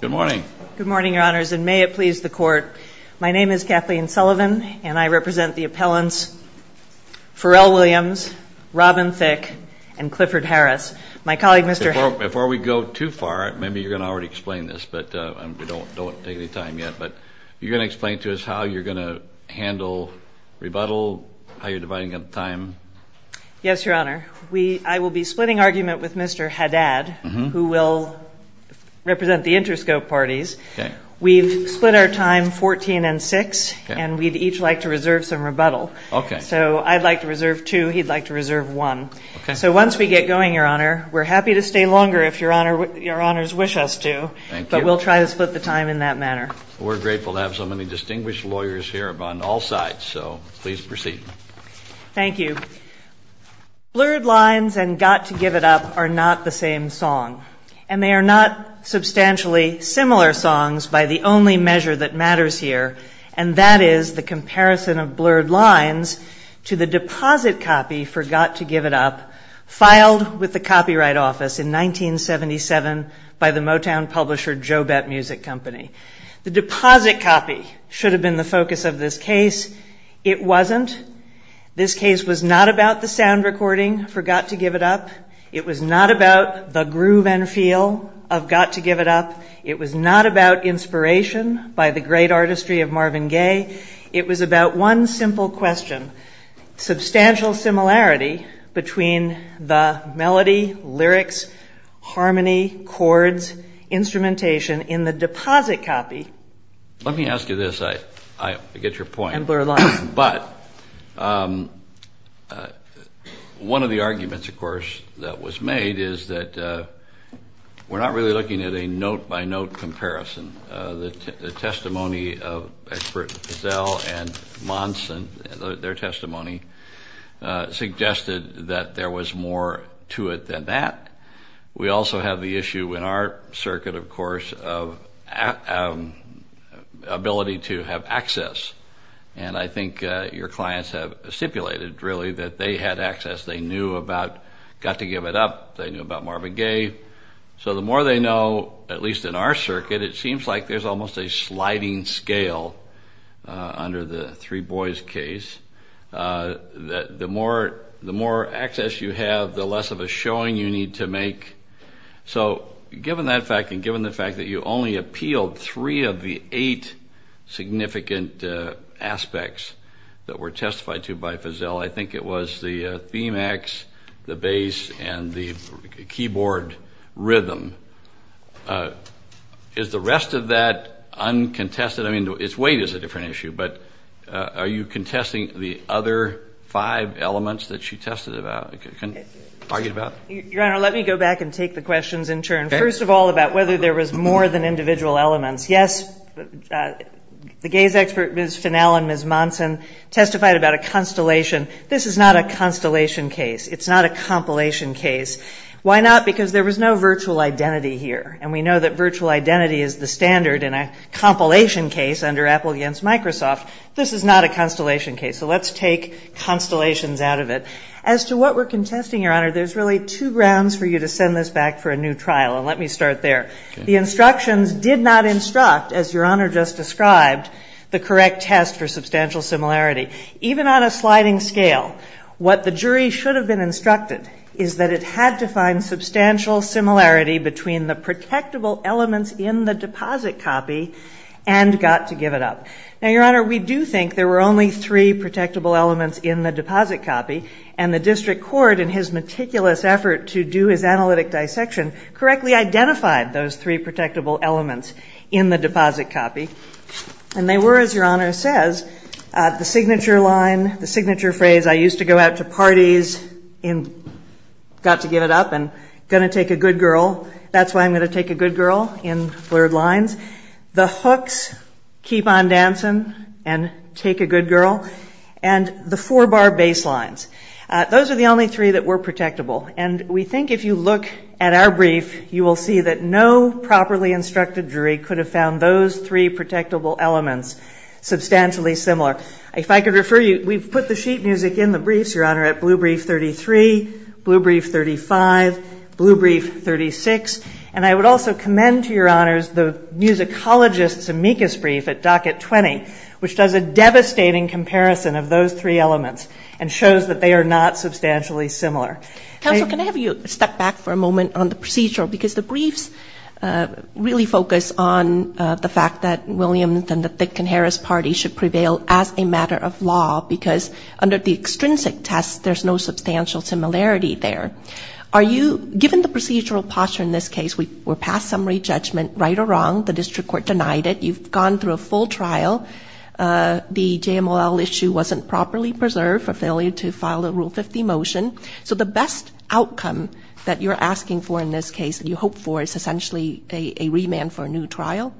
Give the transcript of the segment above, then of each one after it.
Good morning, your honors, and may it please the court. My name is Kathleen Sullivan, and I represent the appellants Farrell Williams, Robin Thicke, and Clifford Harris. My colleague, Mr. Haddad... Before we go too far, maybe you're going to already explain this, but we don't take the time yet, but you're going to explain to us how you're going to handle rebuttal, how you're dividing up time? Yes, your honor. I will be splitting argument with Mr. Haddad, who will represent the interscope parties. We've split our time 14 and 6, and we'd each like to reserve some rebuttal. So I'd like to reserve two, he'd like to reserve one. So once we get going, your honor, we're happy to stay longer if your honors wish us to, but we'll try to split the time in that manner. We're grateful to have so many distinguished lawyers here on all sides, so please proceed. Thank you. Blurred Lines and Got to Give It Up are not the same song, and they are not substantially similar songs by the only measure that matters here, and that is the comparison of Blurred Lines to the deposit copy for Got to Give It Up, filed with the Copyright Office in 1977 by the Motown publisher Jobette Music Company. The deposit copy should have been the focus of this case. It wasn't. This case was not about the sound recording for Got to Give It Up. It was not about the groove and feel of Got to Give It Up. It was not about inspiration by the great artistry of Marvin Gaye. It was about one simple question, substantial similarity between the melody, lyrics, harmony, chords, instrumentation in the deposit copy and Blurred Lines. Let me ask you this. I get your point, but one of the arguments, of course, that was made is that we're not really looking at a note-by-note comparison. The testimony of experts at Pazell and Monson, their testimony suggested that there was more to it than that. We also have the issue in our circuit, of course, of ability to have access. And I think your clients have stipulated, really, that they had access. They knew about Got to Give It Up. They knew about Marvin Gaye. So the more they know, at least in our circuit, it seems like there's almost a sliding scale under the three boys case, that the more access you have, the less of a showing you need to make. So given that fact and given the fact that you only appealed three of the eight significant aspects that were testified to by Pazell, I think it was the theme acts, the bass, and the keyboard rhythm. Is the rest of that uncontested? I mean, its weight is a different issue, but are you contesting the other five elements that she tested about, argued about? Your Honor, let me go back and take the questions in turn. First of all, about whether there was more than individual elements. Yes, the Gaye's expert, Ms. Finnell and Ms. Monson, testified about a constellation. This is not a constellation case. It's not a compilation case. Why not? Because there was no virtual identity here. And we know that virtual identity is the standard in a compilation case under Apple against Microsoft. This is not a constellation case. So let's take constellations out of it. As to what we're contesting, Your Honor, there's really two grounds for you to send this back for a new trial. And let me start there. The instructions did not instruct, as Your Honor just described, the correct test for substantial similarity. Even on a sliding scale, what the jury should have been instructed is that it had to find substantial similarity between the protectable elements in the deposit copy and got to give it up. Now, Your Honor, we do think there were only three protectable elements in the deposit copy, and the district court, in his meticulous effort to do his analytic dissection, correctly identified those three protectable elements in the deposit copy. And they were, as Your Honor says, the signature line, the signature phrase, I used to go out to parties and got to give it up and going to take a good girl. That's why I'm going to take a good girl in flirt lines. The hooks, keep on dancing and take a good girl. And the four-bar baselines. Those are the only three that were protectable. And we think if you look at our brief, you will see that no properly instructed jury could have found those three protectable elements substantially similar. If I could refer you, we've put the sheet music in the briefs, Your Honor, at blue brief 33, blue brief 35, blue brief 36. And I would also commend to Your Honors the musicologist's amicus brief at docket 20, which does a devastating comparison of those three elements and shows that they are not substantially similar. Counselor, can I have you step back for a moment on the procedural? Because the briefs really focus on the fact that Williams and the Thicke and Harris parties should prevail as a matter of law because under the extrinsic test, there's no substantial similarity there. Are you, given the procedural posture in this case, we're past summary judgment, right or wrong, the district court denied it, you've gone through a full trial, the JMLL issue wasn't properly preserved, a failure to file a Rule 50 motion. So the best outcome that you're asking for in this case, that you hope for is essentially a remand for a new trial?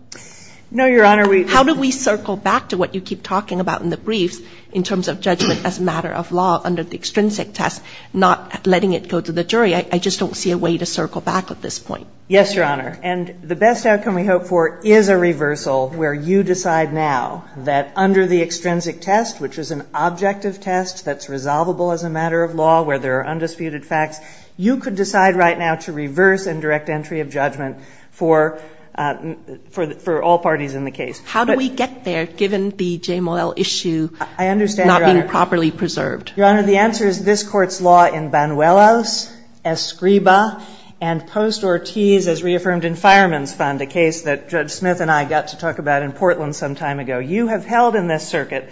No, Your Honor. How do we circle back to what you keep talking about in the briefs in terms of judgment as a matter of law under the extrinsic test, not letting it go to the jury? I just don't see a way to circle back at this point. Yes, Your Honor. And the best outcome we hope for is a reversal where you decide now that under the extrinsic test, which is an objective test that's resolvable as a matter of law where there are undisputed facts, you could decide right now to reverse and direct entry of judgment for all parties in the case. How do we get there given the JMLL issue not being properly preserved? Your Honor, the answer is this Court's law in Banuelos, Escriba, and Post-Ortiz, as reaffirmed in Fireman's Found, a case that Judge Smith and I got to talk about in Portland some time ago. You have held in this circuit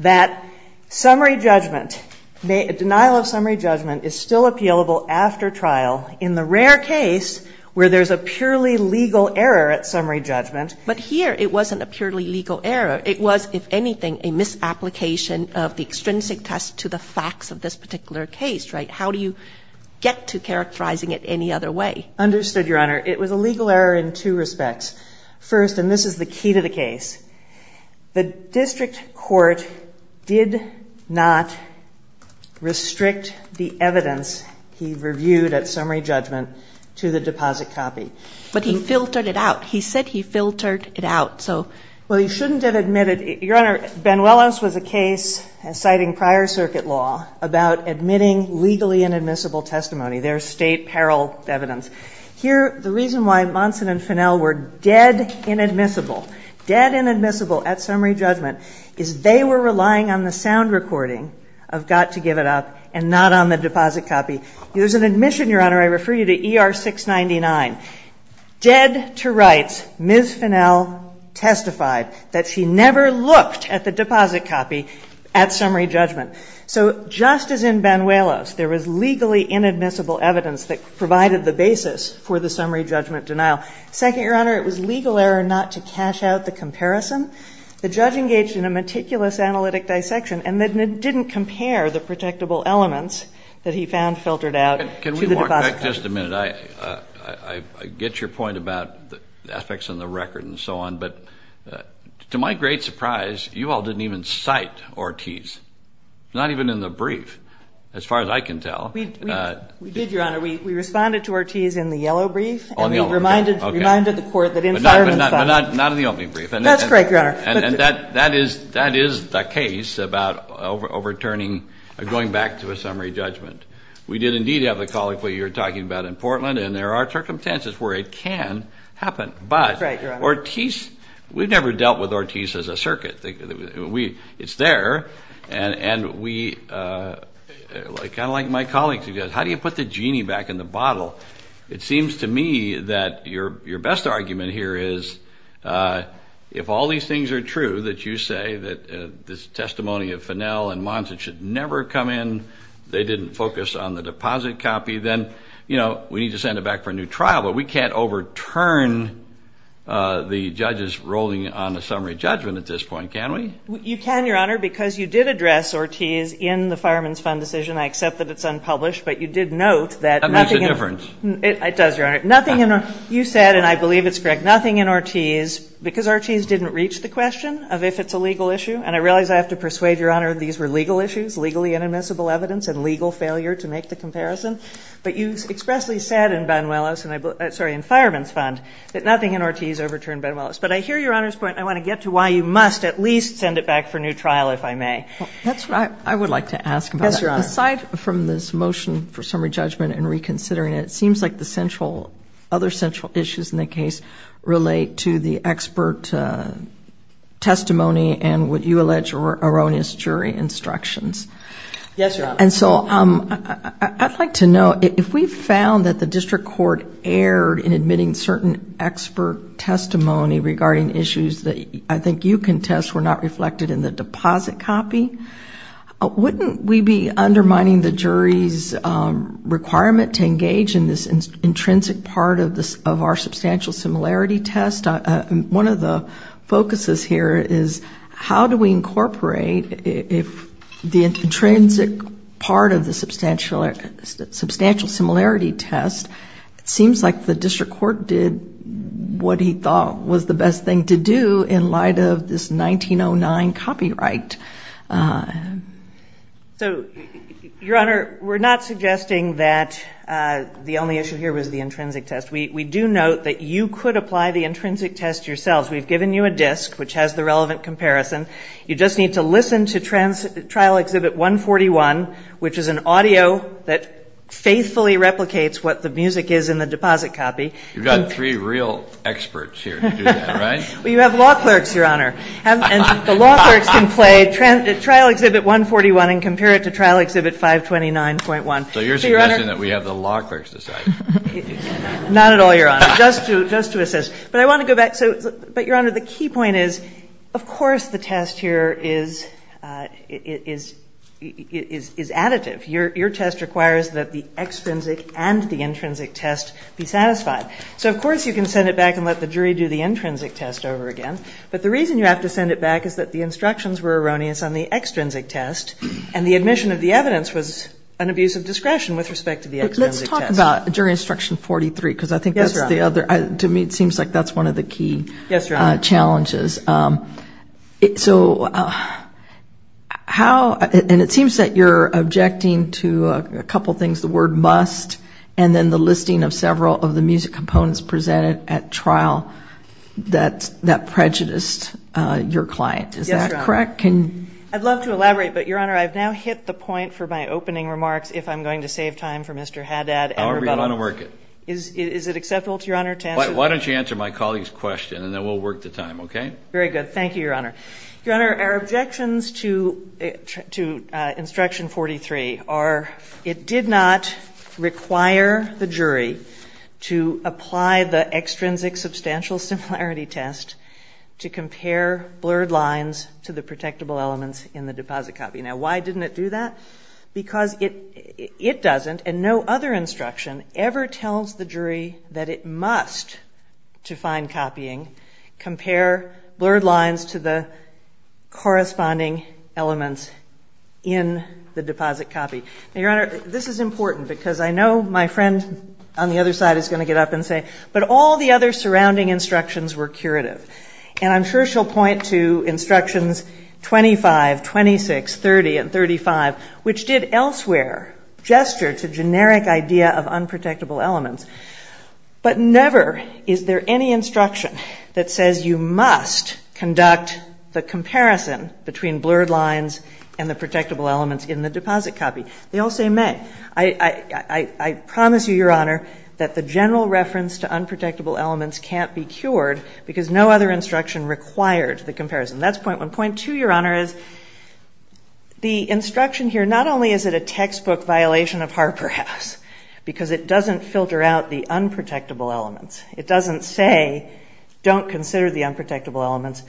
that summary judgment, denial of summary judgment is still appealable after trial in the rare case where there's a purely legal error at summary judgment. But here it wasn't a purely legal error. It was, if anything, a misapplication of the extrinsic test to the facts of this particular case, right? How do you get to characterizing it any other way? Understood, Your Honor. It was a legal error in two respects. First, and this is the key to the case, the district court did not restrict the evidence he reviewed at summary judgment to the deposit copy. But he filtered it out. He said he filtered it out. Well, he shouldn't have admitted it. Your Honor, Banuelos was a case, citing prior circuit law, about admitting legally inadmissible testimony. There's state peril evidence. Here, the reason why Monson and Fennell were dead inadmissible, dead inadmissible at summary judgment, is they were relying on the sound recording of got to give it up and not on the deposit copy. There's an admission, Your Honor, I refer you to ER 699. Dead to rights, Ms. Fennell testified that she never looked at the deposit copy at summary judgment. So just as in Banuelos, there was legally inadmissible evidence that provided the basis for the summary judgment denial. Second, Your Honor, it was legal error not to cash out the comparison. The judge engaged in a meticulous analytic dissection and didn't compare the protectable elements that he found filtered out to the deposit copy. Can we go back just a minute? I get your point about the ethics and the record and so on, but to my great surprise, you all didn't even cite Ortiz. Not even in the brief, as far as I can tell. We did, Your Honor. We responded to Ortiz in the yellow brief and we reminded the court that in the fireman's side. But not in the opium brief. That's correct, Your Honor. And that is the case about overturning or going back to a summary judgment. We did indeed have the colleague that you were talking about in Portland, and there are circumstances where it can happen. But Ortiz, we've never dealt with Ortiz as a circuit. It's there. And kind of like my colleague said, how do you put the genie back in the bottle? It seems to me that your best argument here is if all these things are true, that you say that this testimony of Finnell and Monsen should never come in, they didn't focus on the deposit copy, then, you know, we need to send it back for a new trial. But we can't overturn the judges' ruling on the summary judgment at this point, can we? You can, Your Honor, because you did address Ortiz in the fireman's fund decision. I accept that it's unpublished, but you did note that nothing in it. That makes a difference. It does, Your Honor. Nothing in it. You said, and I believe it's correct, nothing in Ortiz, because Ortiz didn't reach the question of if it's a legal issue. And I realize I have to persuade Your Honor these were legal issues, legally inadmissible evidence and legal failure to make the comparison. But you expressly said in fireman's fund that nothing in Ortiz overturned Ben Willis. But I hear Your Honor's point, and I want to get to why you must at least send it back for a new trial, if I may. That's right. I would like to ask about that. Yes, Your Honor. Aside from this motion for summary judgment and reconsidering it, it seems like the other central issues in the case relate to the expert testimony and what you allege are erroneous jury instructions. Yes, Your Honor. And so I'd like to know, if we found that the district court erred in admitting certain expert testimony regarding issues that I think you contest were not reflected in the deposit copy, wouldn't we be undermining the jury's requirement to engage in this intrinsic part of our substantial similarity test? One of the focuses here is how do we incorporate if the intrinsic part of the substantial similarity test seems like the district court did what he thought was the best thing to do in light of this 1909 copyright? So, Your Honor, we're not suggesting that the only issue here was the intrinsic test. We do note that you could apply the intrinsic test yourselves. We've given you a disc which has the relevant comparison. You just need to listen to trial exhibit 141, which is an audio that faithfully replicates what the music is in the deposit copy. You've got three real experts here to do that, right? You have law clerks, Your Honor. And the law clerks can play trial exhibit 141 and compare it to trial exhibit 529.1. So you're suggesting that we have the law clerks decide? Not at all, Your Honor, just to assist. But I want to go back. But, Your Honor, the key point is, of course, the test here is additive. Your test requires that the extrinsic and the intrinsic test be satisfied. So, of course, you can send it back and let the jury do the intrinsic test over again. But the reason you have to send it back is that the instructions were erroneous on the extrinsic test, and the admission of the evidence was an abuse of discretion with respect to the extrinsic test. Let's talk about jury instruction 43, because I think that's the other. To me, it seems like that's one of the key challenges. Yes, Your Honor. So how – and it seems that you're objecting to a couple things, the word must, and then the listing of several of the music components presented at trial that prejudiced your client. Yes, Your Honor. Is that correct? I'd love to elaborate, but, Your Honor, I've now hit the point for my opening remarks, if I'm going to save time for Mr. Haddad and rebuttal. However you want to work it. Is it acceptable to Your Honor to answer? Why don't you answer my colleague's question, and then we'll work the time, okay? Very good. Thank you, Your Honor. Your Honor, our objections to instruction 43 are, it did not require the jury to apply the extrinsic substantial similarity test to compare blurred lines to the protectable elements in the deposit copy. Now, why didn't it do that? Because it doesn't, and no other instruction ever tells the jury that it must, to find copying, compare blurred lines to the corresponding elements in the deposit copy. Now, Your Honor, this is important, because I know my friend on the other side is going to get up and say, but all the other surrounding instructions were curative. And I'm sure she'll point to instructions 25, 26, 30, and 35, which did elsewhere gesture to generic idea of unprotectable elements. But never is there any instruction that says you must conduct the comparison between blurred lines and the protectable elements in the deposit copy. They all say, amen. I promise you, Your Honor, that the general reference to unprotectable elements can't be cured, because no other instruction requires the comparison. That's point one. Point two, Your Honor, is the instruction here, not only is it a textbook violation of Harper House, because it doesn't filter out the unprotectable elements. It doesn't say, don't consider the unprotectable elements.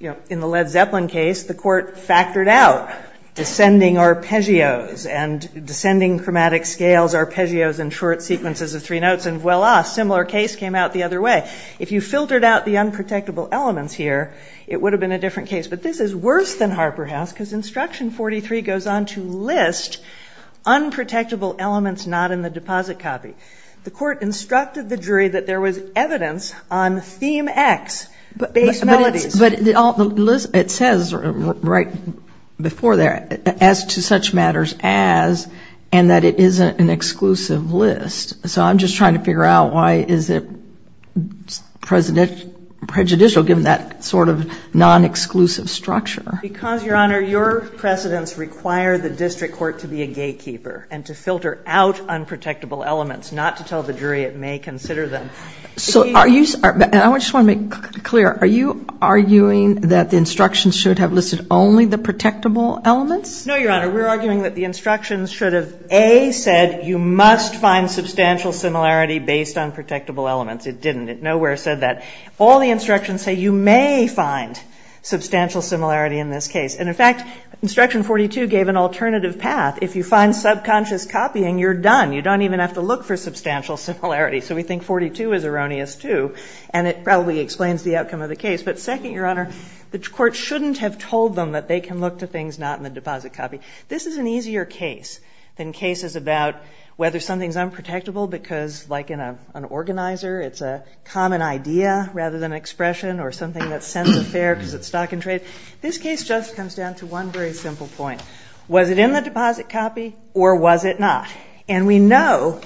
In the Led Zeppelin case, the court factored out descending arpeggios and descending chromatic scales arpeggios in short sequences of three notes, and voila, a similar case came out the other way. If you filtered out the unprotectable elements here, it would have been a different case. But this is worse than Harper House, because instruction 43 goes on to list unprotectable elements not in the deposit copy. The court instructed the jury that there was evidence on theme X. But it says right before there, as to such matters as, and that it isn't an exclusive list. So I'm just trying to figure out why is it prejudicial given that sort of non-exclusive structure. Because, Your Honor, your precedents require the district court to be a gatekeeper and to filter out unprotectable elements, not to tell the jury it may consider them. I just want to make clear, are you arguing that the instructions should have listed only the protectable elements? No, Your Honor. We're arguing that the instructions should have, A, said you must find substantial similarity based on protectable elements. It didn't. Nowhere said that. All the instructions say you may find substantial similarity in this case. And, in fact, instruction 42 gave an alternative path. If you find subconscious copying, you're done. You don't even have to look for substantial similarity. So we think 42 is erroneous, too. And it probably explains the outcome of the case. But second, Your Honor, the court shouldn't have told them that they can look for things not in the deposit copy. This is an easier case than cases about whether something is unprotectable because, like in an organizer, it's a common idea rather than expression or something that's censored there because it's stock and trade. This case just comes down to one very simple point. Was it in the deposit copy or was it not? And we know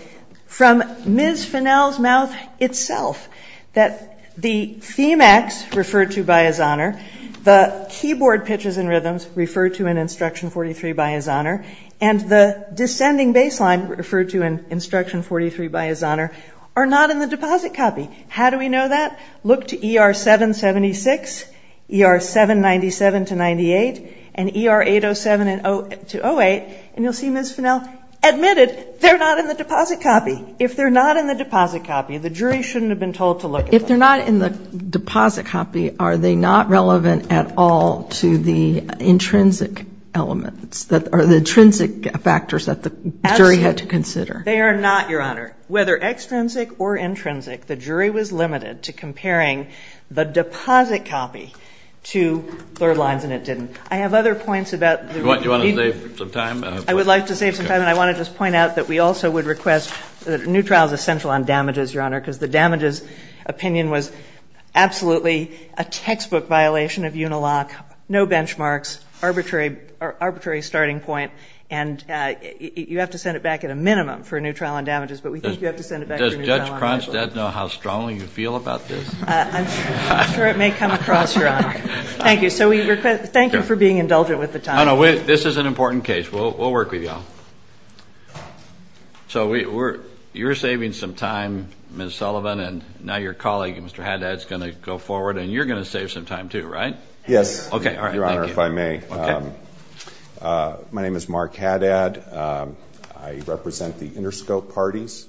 from Ms. Fennell's mouth itself that the CMX referred to by His Honor, the keyboard pitches and rhythms referred to in instruction 43 by His Honor, and the descending bass line referred to in instruction 43 by His Honor are not in the deposit copy. How do we know that? Look to ER-776, ER-797-98, and ER-807-08, and you'll see Ms. Fennell admitted they're not in the deposit copy. If they're not in the deposit copy, the jury shouldn't have been told to look. If they're not in the deposit copy, are they not relevant at all to the intrinsic elements or the intrinsic factors that the jury had to consider? They are not, Your Honor. Whether extrinsic or intrinsic, the jury was limited to comparing the deposit copy to third lines, and it didn't. I have other points about the reasons. Do you want to save some time? I would like to save some time, and I want to just point out that we also would request that a new trial is essential on damages, Your Honor, because the damages opinion was absolutely a textbook violation of Unilock, no benchmarks, arbitrary starting point, and you have to send it back at a minimum for a new trial on damages, but we think you have to send it back for a new trial on damages. Does Judge Cronstadt know how strongly you feel about this? I'm sure it may come across, Your Honor. Thank you. Thank you for being indulgent with the time. No, no, this is an important case. We'll work with you. So you're saving some time, Ms. Sullivan, and now your colleague, Mr. Haddad, is going to go forward, and you're going to save some time too, right? Yes, Your Honor, if I may. My name is Mark Haddad. I represent the Interscope Parties.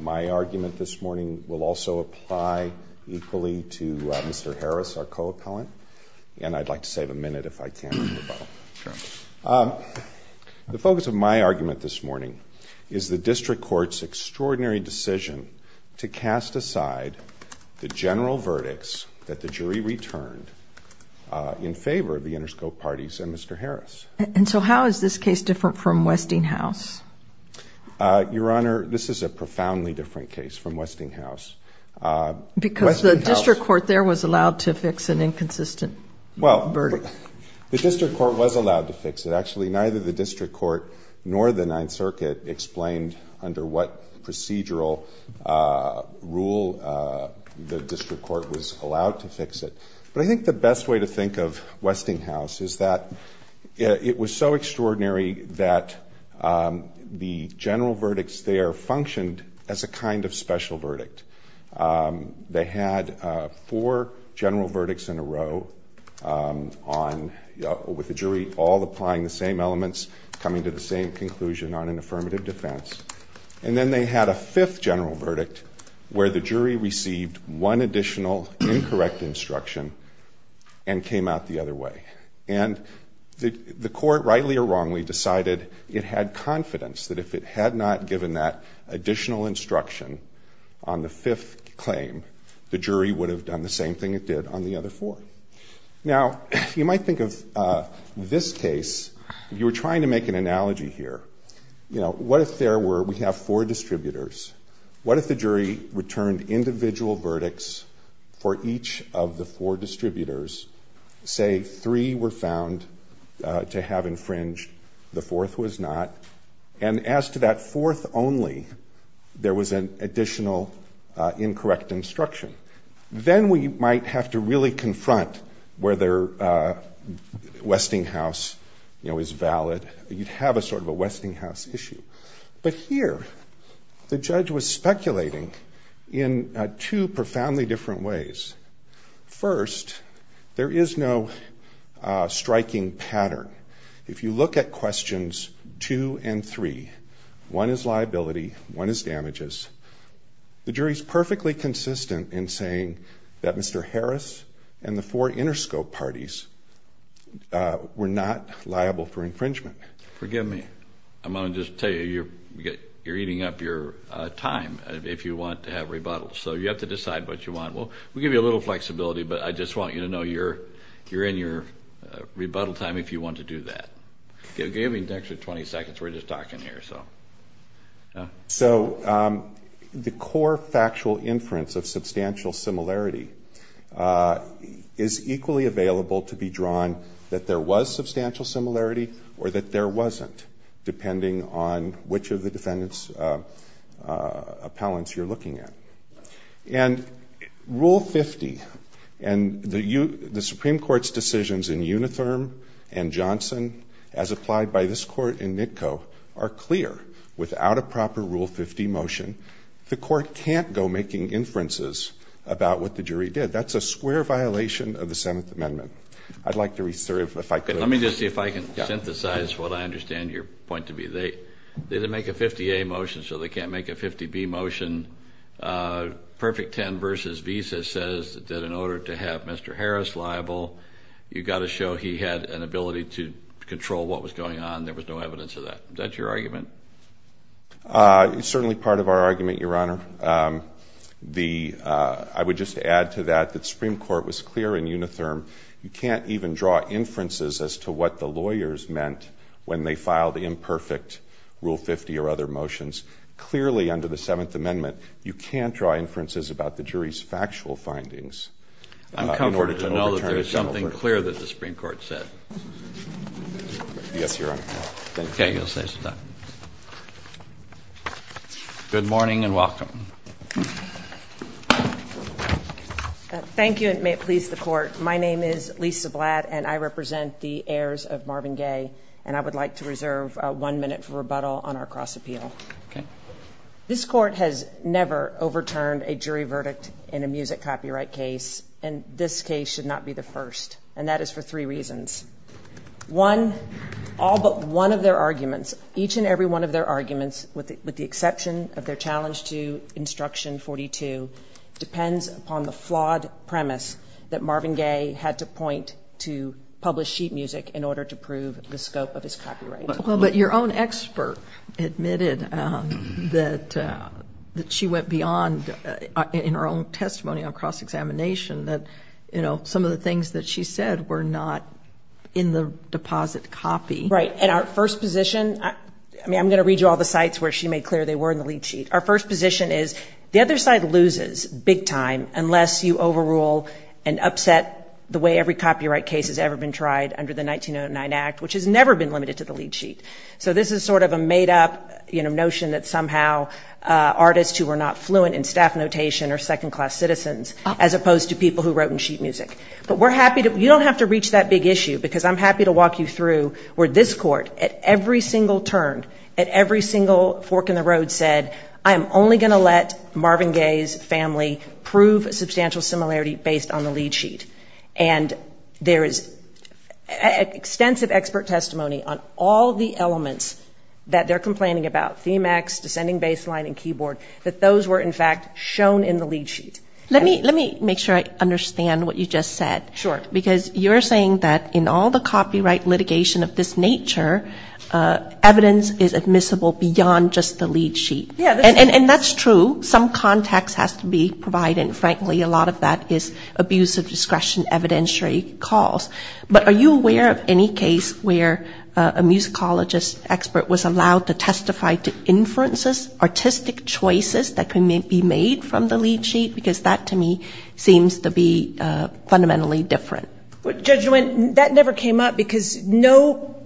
My argument this morning will also apply equally to Mr. Harris, our co-accountant, and I'd like to save a minute if I can. The focus of my argument this morning is the district court's extraordinary decision to cast aside the general verdicts that the jury returned in favor of the Interscope Parties and Mr. Harris. And so how is this case different from Westinghouse? Your Honor, this is a profoundly different case from Westinghouse. Because the district court there was allowed to fix an inconsistent verdict. Well, the district court was allowed to fix it. Actually, neither the district court nor the Ninth Circuit explained under what procedural rule the district court was allowed to fix it. But I think the best way to think of Westinghouse is that it was so extraordinary that the general verdicts there functioned as a kind of special verdict. They had four general verdicts in a row with the jury all applying the same elements, coming to the same conclusion on an affirmative defense. And then they had a fifth general verdict where the jury received one additional incorrect instruction and came out the other way. And the court, rightly or wrongly, decided it had confidence that if it had not given that additional instruction on the fifth claim, the jury would have done the same thing it did on the other four. Now, you might think of this case, you're trying to make an analogy here. You know, what if there were, we have four distributors. What if the jury returned individual verdicts for each of the four distributors? Say three were found to have infringed, the fourth was not. And as to that fourth only, there was an additional incorrect instruction. Then we might have to really confront whether Westinghouse, you know, is valid. You'd have a sort of a Westinghouse issue. But here, the judge was speculating in two profoundly different ways. First, there is no striking pattern. If you look at questions two and three, one is liability, one is damages, the jury is perfectly consistent in saying that Mr. Harris and the four Interscope parties were not liable for infringement. Forgive me. I'm going to just tell you, you're eating up your time if you want to have rebuttals. So you have to decide what you want. We'll give you a little flexibility, but I just want you to know you're in your rebuttal time if you want to do that. Give me an extra 20 seconds. We're just talking here. So the core factual inference of substantial similarity is equally available to be drawn that there was substantial similarity or that there wasn't, depending on which of the defendant's appellants you're looking at. And Rule 50 and the Supreme Court's decisions in Uniform and Johnson, as applied by this court in NITCO, are clear without a proper Rule 50 motion, the court can't go making inferences about what the jury did. That's a square violation of the Seventh Amendment. I'd like to reserve if I could. Let me just see if I can synthesize what I understand your point to be. They didn't make a 50A motion, so they can't make a 50B motion. Perfect 10 v. Visa says that in order to have Mr. Harris liable, you've got to show he had an ability to control what was going on. There was no evidence of that. Is that your argument? It's certainly part of our argument, Your Honor. I would just add to that that the Supreme Court was clear in Uniform. You can't even draw inferences as to what the lawyers meant when they filed the imperfect Rule 50 or other motions. Clearly under the Seventh Amendment, you can't draw inferences about the jury's factual findings. I'm comforted to know that there is something clear that the Supreme Court said. Yes, Your Honor. Okay, you'll say something. Good morning and welcome. Thank you and may it please the Court. My name is Lisa Blatt, and I represent the heirs of Marvin Gaye, and I would like to reserve one minute for rebuttal on our cross-appeal. This Court has never overturned a jury verdict in a music copyright case, and this case should not be the first, and that is for three reasons. One, all but one of their arguments, each and every one of their arguments, with the exception of their challenge to Instruction 42, depends upon the flawed premise that Marvin Gaye had to point to published sheet music in order to prove the scope of his copyright. But your own expert admitted that she went beyond, in her own testimony on cross-examination, that some of the things that she said were not in the deposit copy. Right, and our first position, I mean I'm going to read you all the sites where she made clear they were in the lead sheet. Our first position is the other side loses big time unless you overrule and upset the way every copyright case has ever been tried under the 1909 Act, which has never been limited to the lead sheet. So this is sort of a made-up notion that somehow artists who were not fluent in staff notation are second-class citizens as opposed to people who wrote in sheet music. But we're happy to, you don't have to reach that big issue, because I'm happy to walk you through where this court at every single turn, at every single fork in the road said, I'm only going to let Marvin Gaye's family prove a substantial similarity based on the lead sheet. And there is extensive expert testimony on all the elements that they're complaining about, theme acts, descending bass line and keyboard, that those were in fact shown in the lead sheet. Let me make sure I understand what you just said. Because you're saying that in all the copyright litigation of this nature, evidence is admissible beyond just the lead sheet. And that's true. Some context has to be provided. Frankly, a lot of that is abuse of discretion evidentiary calls. But are you aware of any case where a musicologist expert was allowed to testify to inferences, artistic choices that can be made from the lead sheet? Because that to me seems to be fundamentally different. Judge Nguyen, that never came up because no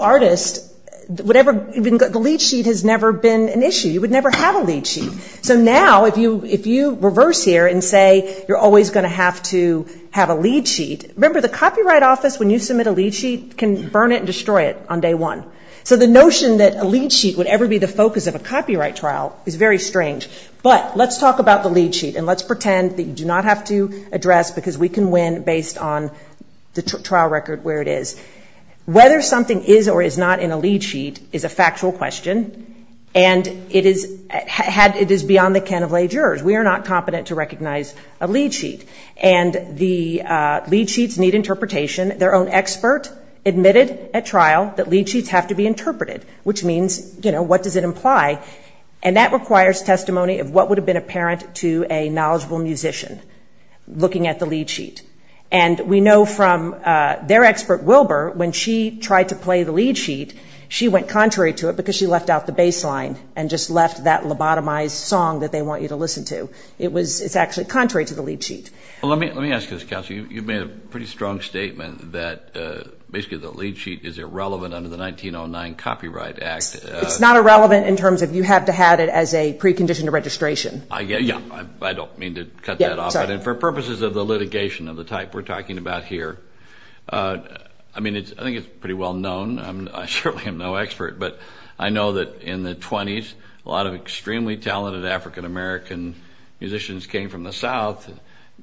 artist, whatever, the lead sheet has never been an issue. You would never have a lead sheet. So now if you reverse here and say you're always going to have to have a lead sheet, remember the copyright office when you submit a lead sheet can burn it and destroy it on day one. So the notion that a lead sheet would ever be the focus of a copyright trial is very strange. But let's talk about the lead sheet and let's pretend that you do not have to address because we can win based on the trial record where it is. Whether something is or is not in a lead sheet is a factual question and it is beyond the can of lay jurors. We are not competent to recognize a lead sheet. And the lead sheets need interpretation. Their own expert admitted at trial that lead sheets have to be interpreted, which means what does it imply? And that requires testimony of what would have been apparent to a knowledgeable musician looking at the lead sheet. And we know from their expert Wilbur when she tried to play the lead sheet, she went contrary to it because she left out the baseline and just left that lobotomized song that they want you to listen to. It's actually contrary to the lead sheet. Let me ask you this, Counselor. You've made a pretty strong statement that basically the lead sheet is irrelevant under the 1909 Copyright Act. It's not irrelevant in terms of you have to have it as a precondition to registration. I don't mean to cut that off. And for purposes of the litigation of the type we're talking about here, I mean, I think it's pretty well known. I certainly am no expert, but I know that in the 20s, a lot of extremely talented African-American musicians came from the south and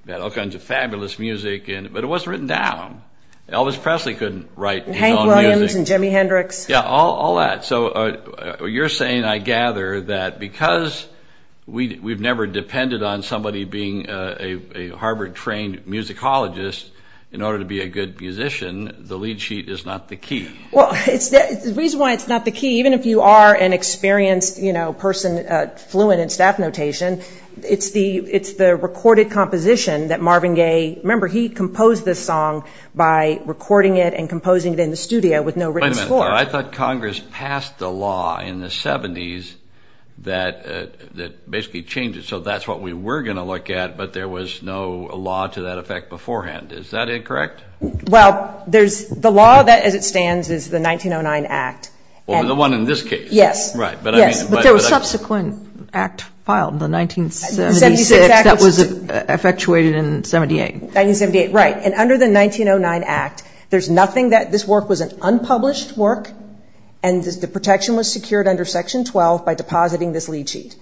got all kinds of fabulous music, but it wasn't written down. Elvis Presley couldn't write his own music. Hank Williams and Jimi Hendrix. Yeah, all that. So you're saying, I gather, that because we've never depended on somebody being a Harvard-trained musicologist in order to be a good musician, the lead sheet is not the key. Well, the reason why it's not the key, even if you are an experienced person, fluent in staff notation, it's the recorded composition that Marvin Gaye, remember he composed this song by recording it and composing it in the studio with no written score. Wait a minute. I thought Congress passed a law in the 70s that basically changed it. So that's what we were going to look at, but there was no law to that effect beforehand. Is that incorrect? Well, the law that it stands is the 1909 Act. The one in this case. Yes. Right. But there was a subsequent act filed in the 1970s that was effectuated in 78. 1978, right. And under the 1909 Act, there's nothing that this work was an unpublished work and the protection was secured under Section 12 by depositing this lead sheet.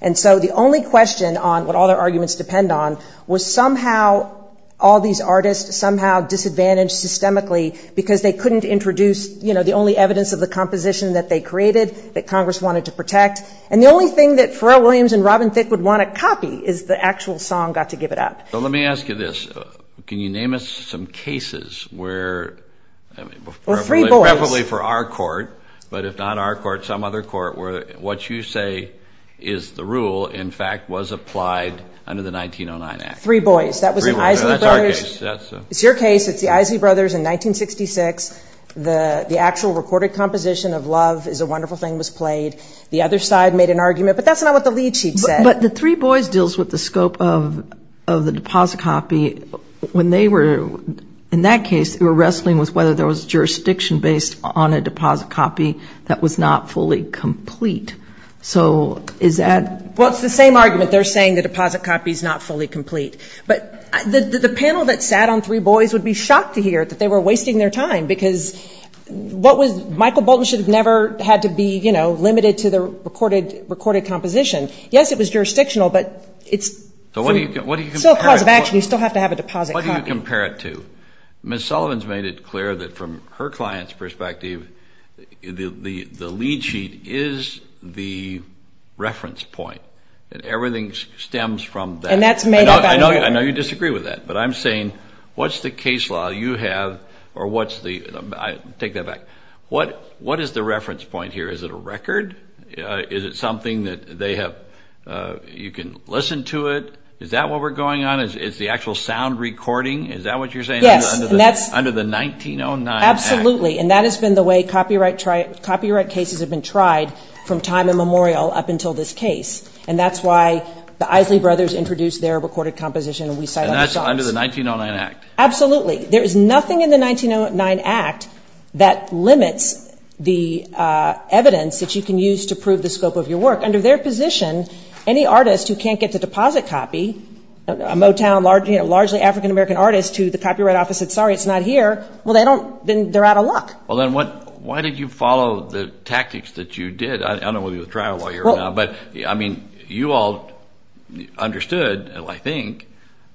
And so the only question on what all their arguments depend on was somehow all these artists somehow disadvantaged systemically because they couldn't introduce, you know, the only evidence of the composition that they created that Congress wanted to protect. And the only thing that Pharrell Williams and Robin Thicke would want a copy is the actual song got to give it up. So let me ask you this. Can you name us some cases where probably for our court, but if not our court, some other court where what you say is the rule, in fact, was applied under the 1909 Act? Three Boys. Three Boys. That's our case. It's your case. It's the Isley Brothers in 1966. The actual recorded composition of Love is a Wonderful Thing was played. The other side made an argument, but that's not what the lead sheet said. But the Three Boys deals with the scope of the deposit copy when they were, in that case, they were wrestling with whether there was jurisdiction based on a deposit copy that was not fully complete. So is that? Well, it's the same argument. They're saying the deposit copy is not fully complete. But the panel that sat on Three Boys would be shocked to hear that they were wasting their time because what was Michael Bolton should have never had to be, you know, limited to the recorded composition. Yes, it was jurisdictional, but you still have to have a deposit copy. What do you compare it to? Ms. Sullivan's made it clear that from her client's perspective, the lead sheet is the reference point. Everything stems from that. And that's made up. I know you disagree with that, but I'm saying what's the case law you have or what's the, Is it a record? Is it something that they have, you can listen to it? Is that what we're going on? Is it the actual sound recording? Is that what you're saying under the 1909 Act? Absolutely. And that has been the way copyright cases have been tried from time immemorial up until this case. And that's why the Isley Brothers introduced their recorded composition. And that's under the 1909 Act. Absolutely. There is nothing in the 1909 Act that limits the evidence that you can use to prove the scope of your work. Under their position, any artist who can't get the deposit copy, a Motown largely African-American artist who the Copyright Office said, sorry, it's not here, well, they're out of luck. Well, then why did you follow the tactics that you did? I don't know whether you'll try it while you're here or not, but, I mean, you all understood, I think,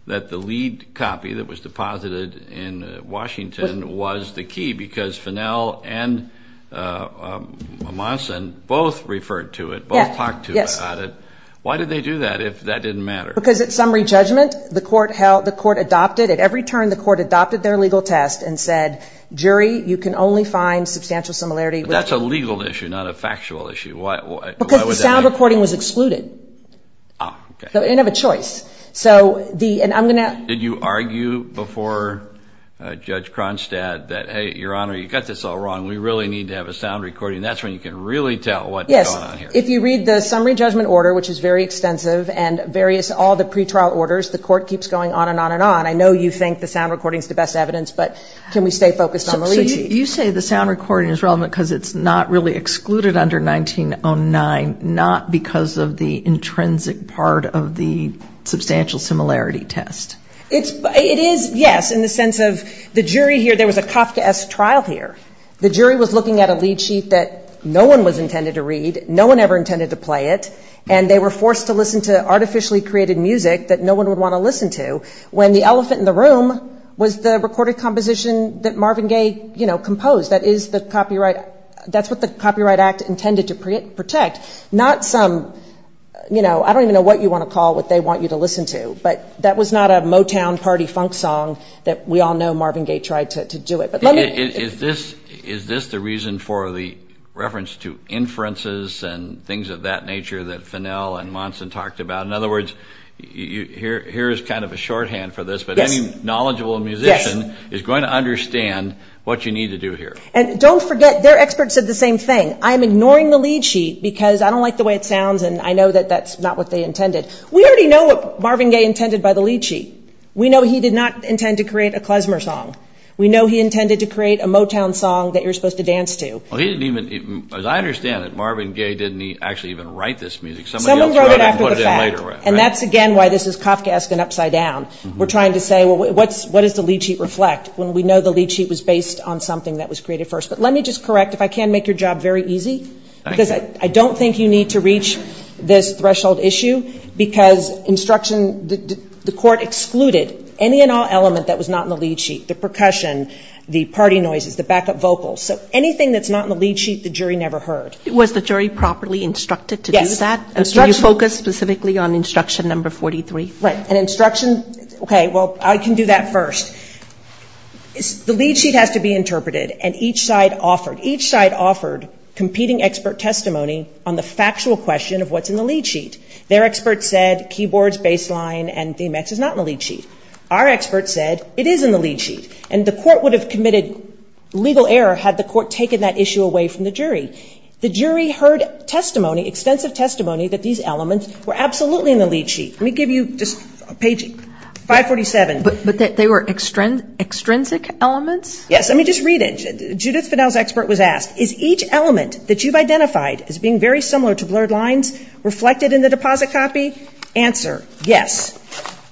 that the lead copy that was deposited in Washington was the key because Finnell and Mommasen both referred to it, both talked to it on it. Why did they do that if that didn't matter? Because at summary judgment, the court held, the court adopted, at every turn the court adopted their legal test and said, jury, you can only find substantial similarity. That's a legal issue, not a factual issue. Why was that? Because the sound recording was excluded. Oh, okay. So they didn't have a choice. Did you argue before Judge Kronstadt that, hey, Your Honor, you've got this all wrong, we really need to have a sound recording, that's when you can really tell what's going on here? Yes. If you read the summary judgment order, which is very extensive, and all the pretrial orders, the court keeps going on and on and on. I know you think the sound recording is the best evidence, but can we stay focused on the lead copy? You say the sound recording is relevant because it's not really excluded under 1909, not because of the intrinsic part of the substantial similarity test. It is, yes, in the sense of the jury here, there was a cop-to-esque trial here. The jury was looking at a lead sheet that no one was intended to read, no one ever intended to play it, and they were forced to listen to artificially created music that no one would want to listen to, when the elephant in the room was the recorded composition that Marvin Gaye composed. That's what the Copyright Act intended to protect, not from, you know, I don't even know what you want to call what they want you to listen to, but that was not a Motown party funk song that we all know Marvin Gaye tried to do it. Is this the reason for the reference to inferences and things of that nature that Fennell and Monson talked about? In other words, here is kind of a shorthand for this, but any knowledgeable musician is going to understand what you need to do here. And don't forget, their experts said the same thing. I'm ignoring the lead sheet because I don't like the way it sounds, and I know that that's not what they intended. We already know what Marvin Gaye intended by the lead sheet. We know he did not intend to create a Klezmer song. We know he intended to create a Motown song that you're supposed to dance to. As I understand it, Marvin Gaye didn't actually even write this music. No one wrote it after the fact, and that's, again, why this is Kafkaesque and upside down. We're trying to say, well, what does the lead sheet reflect when we know the lead sheet was based on something that was created first? But let me just correct, if I can make your job very easy, because I don't think you need to reach this threshold issue because the court excluded any and all element that was not in the lead sheet, the percussion, the party noises, the backup vocals. So anything that's not in the lead sheet, the jury never heard. Was the jury properly instructed to do that? Yes. Did you focus specifically on instruction number 43? Right. And instruction, okay, well, I can do that first. The lead sheet has to be interpreted, and each side offered competing expert testimony on the factual question of what's in the lead sheet. Their expert said keyboards, bass line, and theme X is not in the lead sheet. Our expert said it is in the lead sheet. And the court would have committed legal error had the court taken that issue away from the jury. The jury heard testimony, extensive testimony, that these elements were absolutely in the lead sheet. Let me give you just page 547. But they were extrinsic elements? Yes. Let me just read it. Judith Fidel's expert was asked, is each element that you've identified as being very similar to blurred lines reflected in the deposit copy? Answer, yes.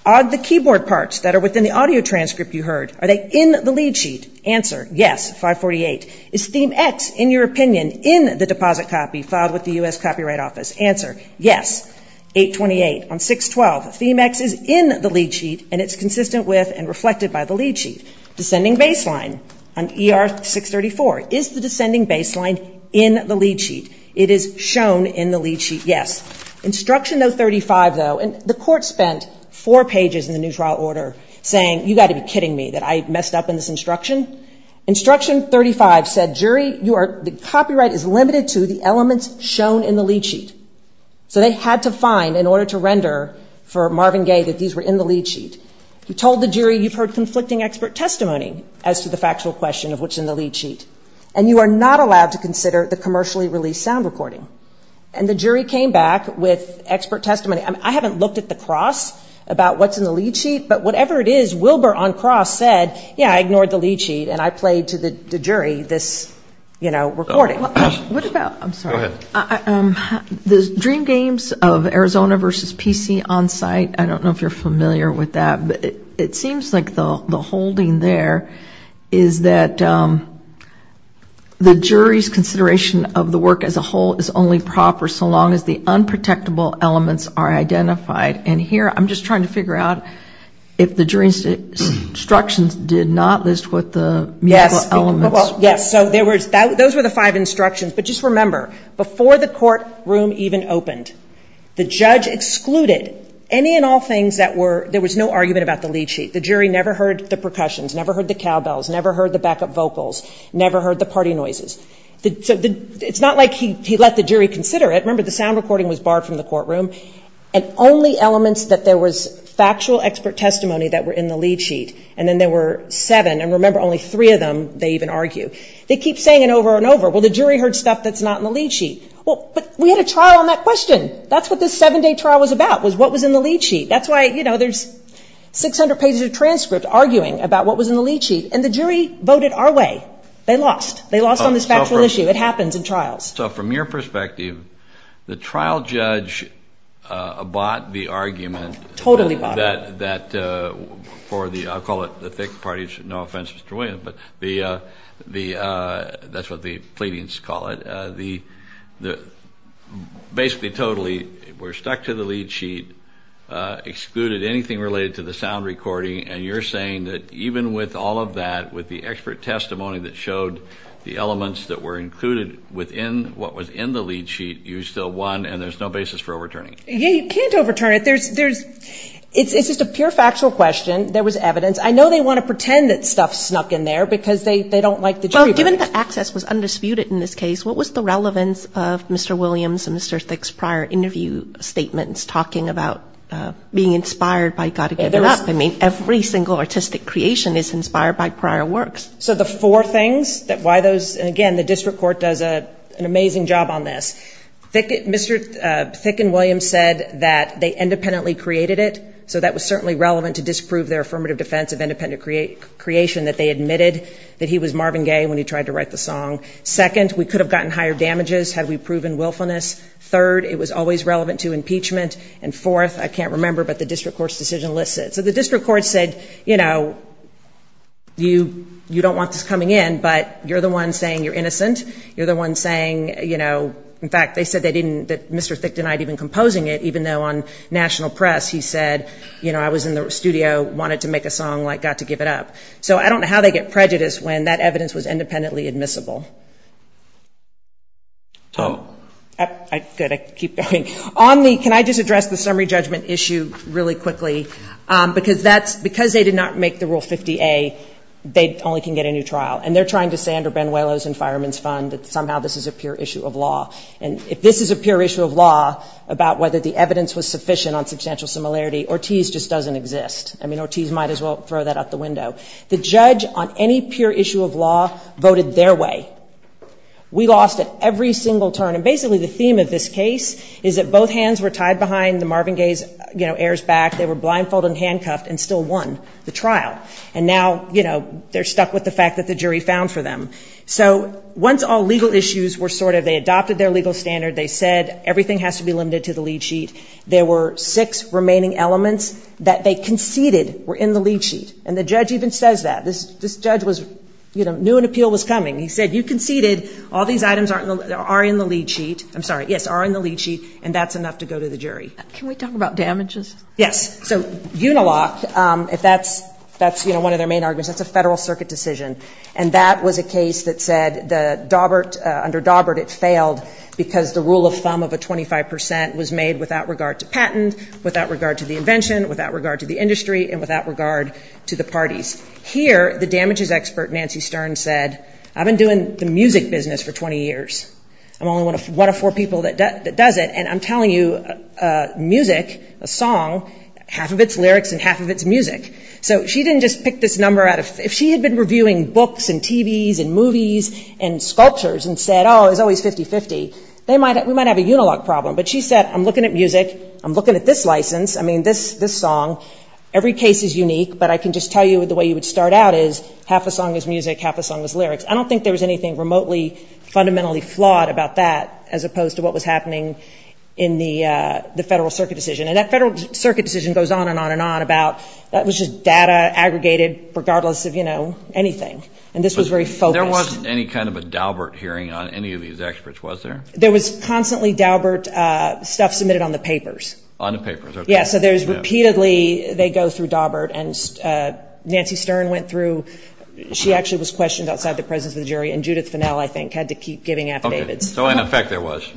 Are the keyboard parts that are within the audio transcript you heard, are they in the lead sheet? Answer, yes, 548. Is theme X, in your opinion, in the deposit copy filed with the U.S. Copyright Office? Answer, yes, 828. On 612, theme X is in the lead sheet, and it's consistent with and reflected by the lead sheet. Descending bass line on ER 634, is the descending bass line in the lead sheet? It is shown in the lead sheet, yes. Instruction 035, though, and the court spent four pages in the new trial order saying, you've got to be kidding me that I messed up in this instruction. Instruction 035 said, jury, copyright is limited to the elements shown in the lead sheet. So they had to find, in order to render for Marvin Gaye, that these were in the lead sheet. He told the jury, you've heard conflicting expert testimony as to the factual question of what's in the lead sheet, and you are not allowed to consider the commercially released sound recording. And the jury came back with expert testimony. I haven't looked at the cross about what's in the lead sheet, but whatever it is, Wilbur on cross said, yeah, I ignored the lead sheet, and I played to the jury this recording. What about, I'm sorry. The dream games of Arizona versus PC on site, I don't know if you're familiar with that, but it seems like the holding there is that the jury's consideration of the work as a whole is only proper so long as the unprotectable elements are identified. And here, I'm just trying to figure out if the jury's instructions did not list what the elements were. Yes, so those were the five instructions. But just remember, before the courtroom even opened, the judge excluded any and all things that were, there was no argument about the lead sheet. The jury never heard the percussions, never heard the cowbells, never heard the backup vocals, never heard the party noises. It's not like he let the jury consider it. Remember, the sound recording was barred from the courtroom. And only elements that there was factual expert testimony that were in the lead sheet, and then there were seven. And remember, only three of them, they even argue. They keep saying it over and over. Well, the jury heard stuff that's not in the lead sheet. Well, but we had a trial on that question. That's what this seven-day trial was about, was what was in the lead sheet. That's why, you know, there's 600 pages of transcripts arguing about what was in the lead sheet. And the jury voted our way. They lost. They lost on the factual issue. It happens in trials. So from your perspective, the trial judge bought the argument that for the, I'll call it the thick parties, no offense, Mr. Williams, but that's what the pleadings call it, basically totally were stuck to the lead sheet, excluded anything related to the sound recording. And you're saying that even with all of that, with the expert testimony that showed the elements that were included within what was in the lead sheet, you still won and there's no basis for overturning it. Yeah, you can't overturn it. It's just a pure factual question. There was evidence. I know they want to pretend that stuff snuck in there because they don't like the jury. Well, given that access was undisputed in this case, what was the relevance of Mr. Williams and Mr. Thick's prior interview statements talking about being inspired by Gotta Give It Up? I mean, every single artistic creation is inspired by prior works. So the four things that why those, and again, the district court does an amazing job on this. Mr. Thick and Williams said that they independently created it, so that was certainly relevant to disprove their affirmative defense of independent creation, that they admitted that he was Marvin Gaye when he tried to write the song. Second, we could have gotten higher damages had we proven willfulness. Third, it was always relevant to impeachment. And fourth, I can't remember, but the district court's decision lists it. So the district court said, you know, you don't want this coming in, but you're the one saying you're innocent. You're the one saying, you know, in fact, they said that Mr. Thick denied even composing it, even though on national press he said, you know, I was in the studio, wanted to make a song like Gotta Give It Up. So I don't know how they get prejudice when that evidence was independently admissible. Omni, can I just address the summary judgment issue really quickly? Because they did not make the Rule 50A, they only can get a new trial. And they're trying to say under Benuelo's and Fireman's Fund that somehow this is a pure issue of law. And if this is a pure issue of law about whether the evidence was sufficient on substantial similarity, Ortiz just doesn't exist. I mean, Ortiz might as well throw that out the window. The judge on any pure issue of law voted their way. We lost it every single turn. And basically the theme of this case is that both hands were tied behind the Marvin Gaye's, you know, blindfolded and handcuffed and still won the trial. And now, you know, they're stuck with the fact that the jury found for them. So once all legal issues were sorted, they adopted their legal standard, they said everything has to be limited to the lead sheet. There were six remaining elements that they conceded were in the lead sheet. And the judge even says that. This judge was, you know, knew an appeal was coming. He said, you conceded all these items are in the lead sheet. and that's enough to go to the jury. Can we talk about damages? Yes. So, Unilocked, that's, you know, one of their main arguments. That's a federal circuit decision. And that was a case that said the Daubert, under Daubert, it failed because the rule of thumb of the 25% was made without regard to patent, without regard to the invention, without regard to the industry, and without regard to the parties. Here, the damages expert, Nancy Stern, said, I've been doing the music business for 20 years. I'm one of four people that does it. And I'm telling you, music, a song, half of it's lyrics and half of it's music. So, she didn't just pick this number out of, if she had been reviewing books and TVs and movies and sculptures and said, oh, it's always 50-50, we might have a Unilocked problem. But she said, I'm looking at music, I'm looking at this license, I mean, this song, every case is unique, but I can just tell you the way you would start out is half a song is music, half a song is lyrics. I don't think there's anything remotely fundamentally flawed about that as opposed to what was happening in the federal circuit decision. And that federal circuit decision goes on and on and on about, that was just data aggregated regardless of, you know, anything. And this was very focused. There wasn't any kind of a Daubert hearing on any of these experts, was there? There was constantly Daubert stuff submitted on the papers. On the papers, okay. Yeah, so there's repeatedly, they go through Daubert, and Nancy Stern went through, she actually was questioned outside the presence of the jury, and Judith Finnell, I think, had to keep giving affidavits. So, in effect, there was.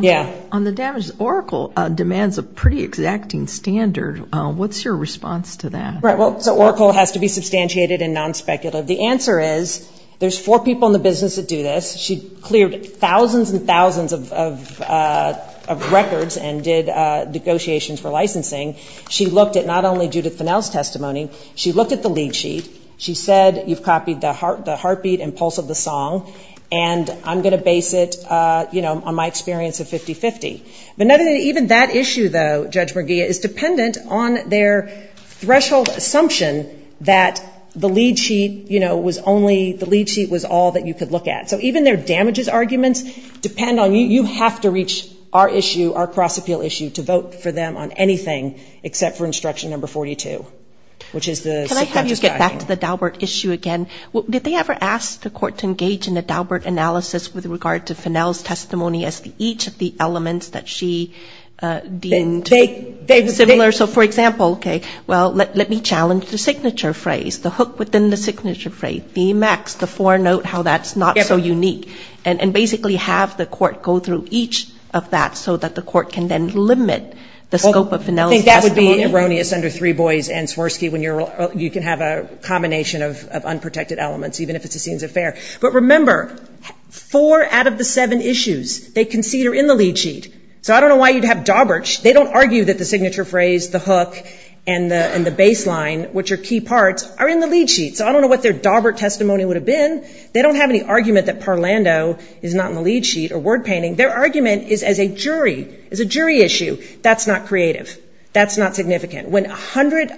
Yeah. On the damages, Oracle demands a pretty exacting standard. What's your response to that? Right, well, so Oracle has to be substantiated and non-speculative. The answer is, there's four people in the business that do this. She cleared thousands and thousands of records and did negotiations for licensing. She looked at not only Judith Finnell's testimony, she looked at the lead sheet. She said, you've copied the heartbeat and pulse of the song, and I'm going to base it, you know, on my experience of 50-50. But even that issue, though, Judge Merguia, is dependent on their threshold assumption that the lead sheet, you know, was only, the lead sheet was all that you could look at. So even their damages arguments depend on, you have to reach our issue, our cross-appeal issue, to vote for them on anything except for instruction number 42, which is the. Can I have you get back to the Daubert issue again? Did they ever ask the court to engage in a Daubert analysis with regard to Finnell's testimony as to each of the elements that she deemed similar? So, for example, okay, well, let me challenge the signature phrase, the hook within the signature phrase, B-max, the four-note, how that's not so unique. And basically have the court go through each of that so that the court can then limit the scope of Finnell's testimony. I think that would be erroneous under Three Boys and Swirsky when you can have a combination of unprotected elements, even if it just seems unfair. But remember, four out of the seven issues they concede are in the lead sheet. So I don't know why you'd have Daubert. They don't argue that the signature phrase, the hook, and the baseline, which are key parts, are in the lead sheet. So I don't know what their Daubert testimony would have been. They don't have any argument that Parlando is not in the lead sheet or word painting. Their argument is as a jury, as a jury issue. That's not creative. That's not significant. When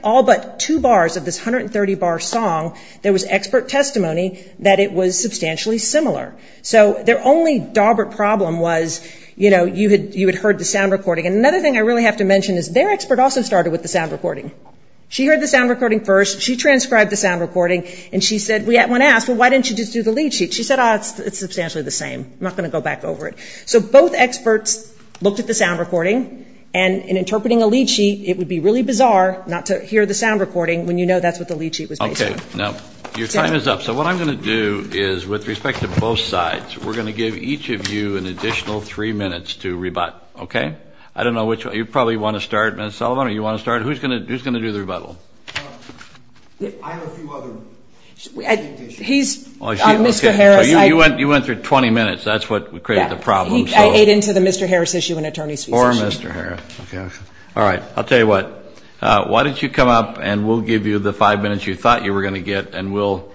all but two bars of this 130-bar song, there was expert testimony that it was substantially similar. So their only Daubert problem was you had heard the sound recording. Another thing I really have to mention is their expert also started with the sound recording. She heard the sound recording first. She transcribed the sound recording. And she said, when asked, well, why didn't you just do the lead sheet? She said, oh, it's substantially the same. I'm not going to go back over it. So both experts looked at the sound recording. And in interpreting a lead sheet, it would be really bizarre not to hear the sound recording when you know that's what the lead sheet was based on. Okay. Now, you're tying us up. So what I'm going to do is, with respect to both sides, we're going to give each of you an additional three minutes to rebut. Okay? I don't know which one. You probably want to start, Ms. Sullivan, or you want to start? Who's going to do the rebuttal? I have a few others. He's Mr. Harris. You went through 20 minutes. That's what created the problem. I ate into the Mr. Harris issue in Attorney Seals. Or Mr. Harris. Okay. All right. I'll tell you what. Why don't you come up, and we'll give you the five minutes you thought you were going to get, and we'll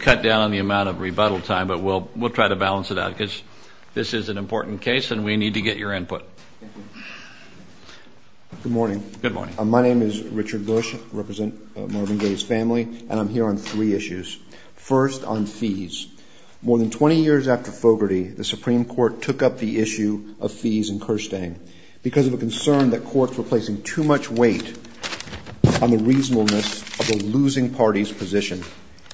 cut down on the amount of rebuttal time, but we'll try to balance it out because this is an important case and we need to get your input. Good morning. Good morning. My name is Richard Bush. I represent Marvin Gaye's family. I'm here on three issues. First, on fees. More than 20 years after Fogarty, the Supreme Court took up the issue of fees in Kirstein because of a concern that courts were placing too much weight on the reasonableness of a losing party's position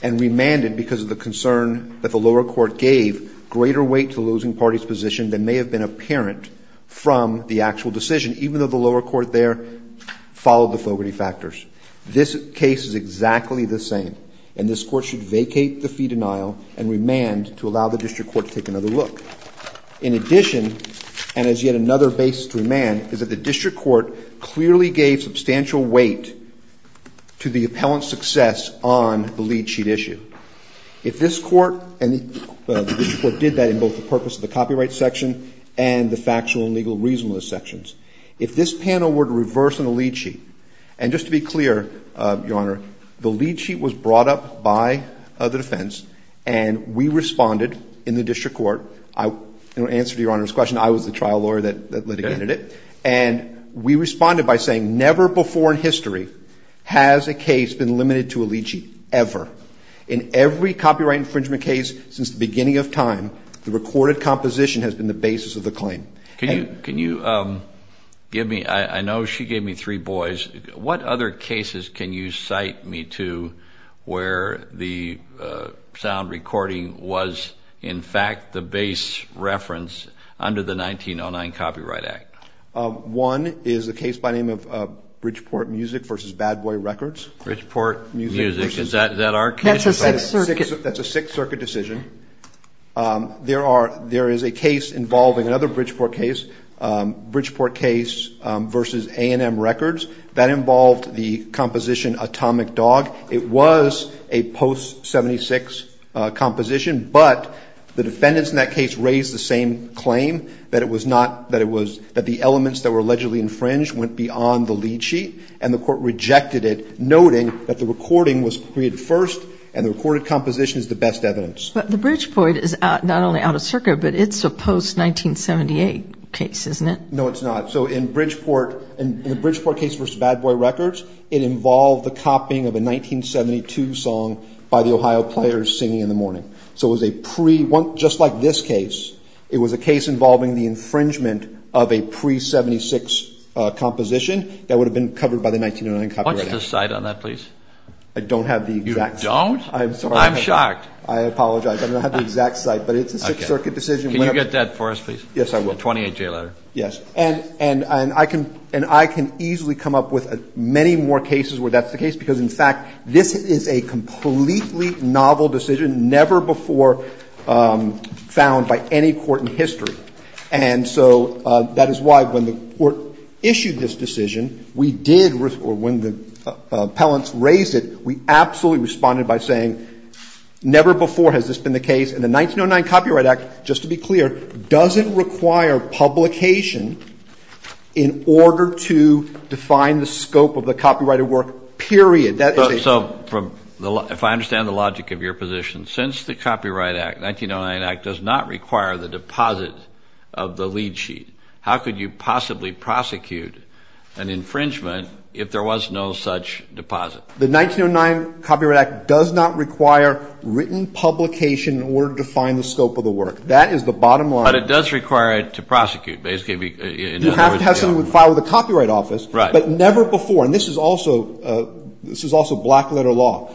and remanded because of the concern that the lower court gave greater weight to a losing party's position than may have been apparent from the actual decision, even though the lower court there followed the Fogarty factors. This case is exactly the same, and this court should vacate the fee denial and remand to allow the district court to take another look. In addition, and as yet another basic remand, is that the district court clearly gave substantial weight to the appellant's success on the lead sheet issue. If this court and the district court did that in both the purpose of the copyright section and the factual and legal reasonableness sections, if this panel were to reverse on the lead sheet, and just to be clear, Your Honor, the lead sheet was brought up by the defense and we responded in the district court. In answer to Your Honor's question, I was the trial lawyer that litigated it, and we responded by saying, never before in history has a case been limited to a lead sheet, ever. In every copyright infringement case since the beginning of time, the recorded composition has been the basis of the claim. Can you give me, I know she gave me three boys, what other cases can you cite me to where the sound recording was in fact the base reference under the 1909 Copyright Act? One is a case by the name of Bridgeport Music v. Bad Boy Records. Bridgeport Music, is that our case? That's a Sixth Circuit decision. There is a case involving another Bridgeport case, Bridgeport Case v. A&M Records, that involved the composition Atomic Dog. It was a post-'76 composition, but the defendants in that case raised the same claim, that the elements that were allegedly infringed went beyond the lead sheet, and the court rejected it, noting that the recording was created first and the recorded composition is the best evidence. But the Bridgeport is not only out of circuit, but it's a post-1978 case, isn't it? No, it's not. So in the Bridgeport case v. Bad Boy Records, it involved the copying of a 1972 song by the Ohio Players singing in the morning. So just like this case, it was a case involving the infringement of a pre-'76 composition that would have been covered by the 1909 Copyright Act. Won't you cite on that, please? I don't have the exact... You don't? I'm shocked. I apologize. I don't have the exact cite, but it's a Sixth Circuit decision. Can you get that for us, please? Yes, I will. The 28-J letter. Yes. And I can easily come up with many more cases where that's the case, because, in fact, this is a completely novel decision never before found by any court in history. And so that is why when the court issued this decision, we did... or when the appellants raised it, we absolutely responded by saying, never before has this been the case. And the 1909 Copyright Act, just to be clear, doesn't require publication in order to define the scope of the copyrighted work, period. So, if I understand the logic of your position, since the Copyright Act, 1909 Act, does not require the deposit of the lead sheet, how could you possibly prosecute an infringement if there was no such deposit? The 1909 Copyright Act does not require written publication in order to define the scope of the work. That is the bottom line. But it does require it to prosecute, basically. You have to have something filed with the Copyright Office, but never before. And this is also block letter law.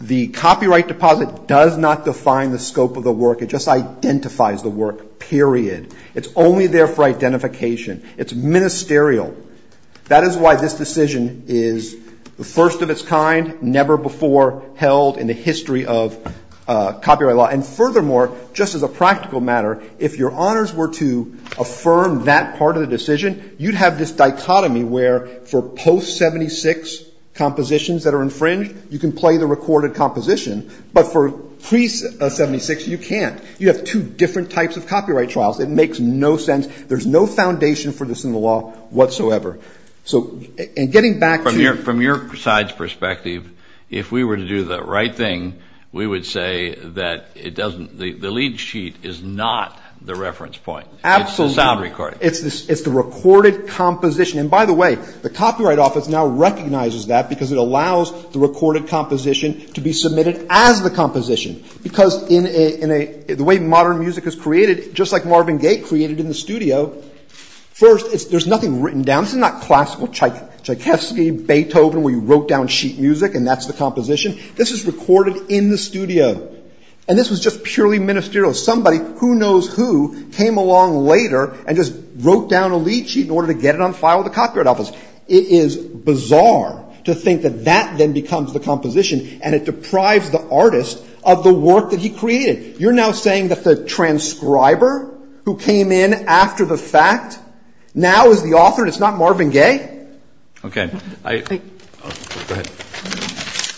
The copyright deposit does not define the scope of the work. It just identifies the work, period. It's only there for identification. It's ministerial. That is why this decision is the first of its kind, never before held in the history of copyright law. And furthermore, just as a practical matter, if your honors were to affirm that part of the decision, you'd have this dichotomy where, for post-'76 compositions that are infringed, you can play the recorded composition, but for pre-'76, you can't. You have two different types of copyright trials. It makes no sense. There's no foundation for this in the law whatsoever. So, in getting back to your... From your side's perspective, if we were to do the right thing, we would say that it doesn't... The lead sheet is not the reference point. Absolutely. It's the sound recording. It's the recorded composition. And by the way, the Copyright Office now recognizes that because it allows the recorded composition to be submitted as the composition. Because in a... The way modern music is created, just like Marvin Gaye created in the studio, first, there's nothing written down. It's not classical type. It's like Heskey, Beethoven, where you wrote down sheet music, and that's the composition. This is recorded in the studio. And this is just purely ministerial. Somebody who knows who came along later and just wrote down a lead sheet in order to get it on file with the Copyright Office. It is bizarre to think that that then becomes the composition, and it deprives the artist of the work that he created. You're now saying that the transcriber who came in after the fact now is the author, and it's not Marvin Gaye? Okay, I... Go ahead.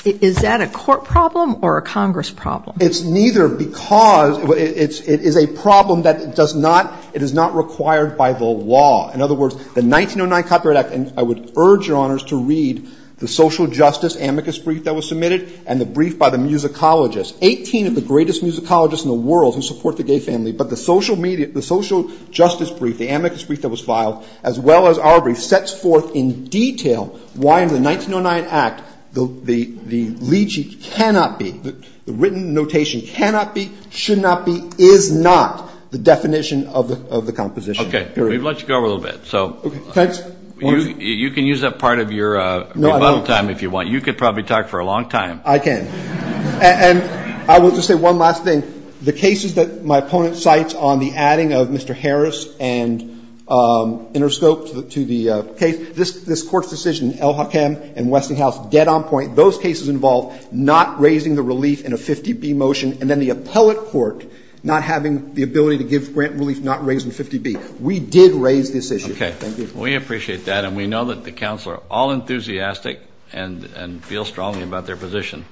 Is that a court problem or a Congress problem? It's neither because... It is a problem that does not... It is not required by the law. In other words, the 1909 Copyright Act, and I would urge your honors to read the social justice amicus brief that was submitted and the brief by the musicologist. 18 of the greatest musicologists in the world who support the Gaye family, but the social justice brief, the amicus brief that was filed, as well as our brief, sets forth in detail why in the 1909 Act, the legis cannot be, the written notation cannot be, should not be, is not the definition of the composition. Okay, we've let you go a little bit, so... You can use that part of your rebuttal time if you want. You could probably talk for a long time. I can. And I will just say one last thing. The cases that my opponent cites on the adding of Mr. Harris and Interscope to the case, this court's decision, El-Hakam and Westinghouse, dead on point, those cases involve not raising the release in a 50-B motion, and then the appellate court not having the ability to give grant relief, not raising 50-B. We did raise this issue. Okay. We appreciate that, and we know that the counsel are all enthusiastic and feel strongly about their position.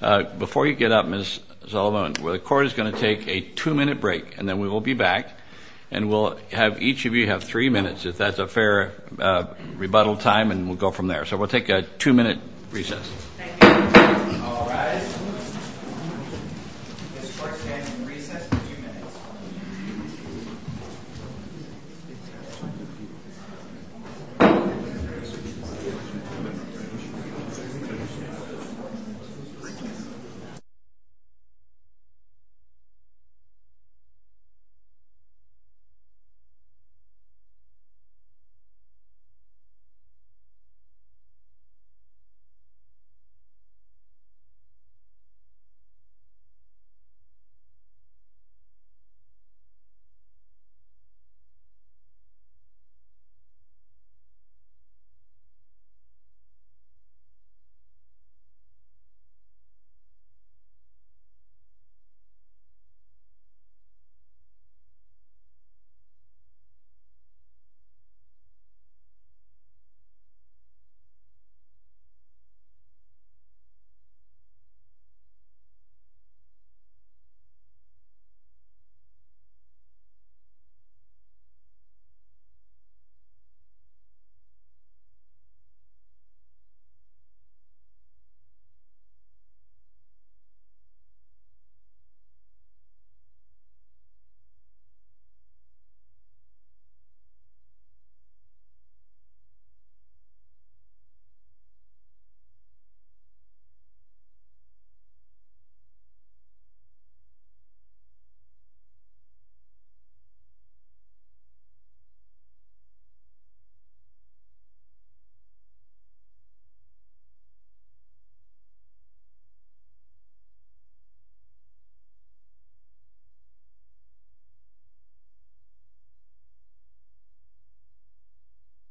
Before you get up, Ms. Zolomon, the court is going to take a two-minute break, and then we will be back, and we'll have each of you have three minutes, if that's a fair rebuttal time, and we'll go from there. So we'll take a two-minute recess. Thank you. All rise. This court stands in recess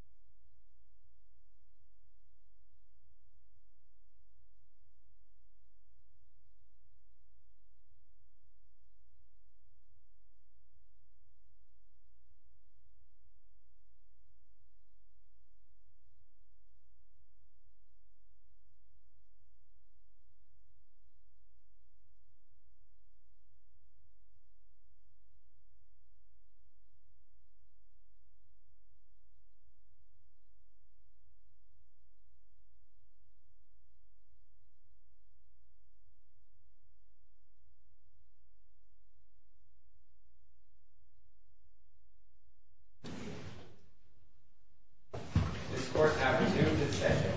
for two minutes. This court stands in recess for two minutes. This court stands in recess for two minutes. This court stands in recess for two minutes. This court stands in recess for two minutes. This court has resumed its session.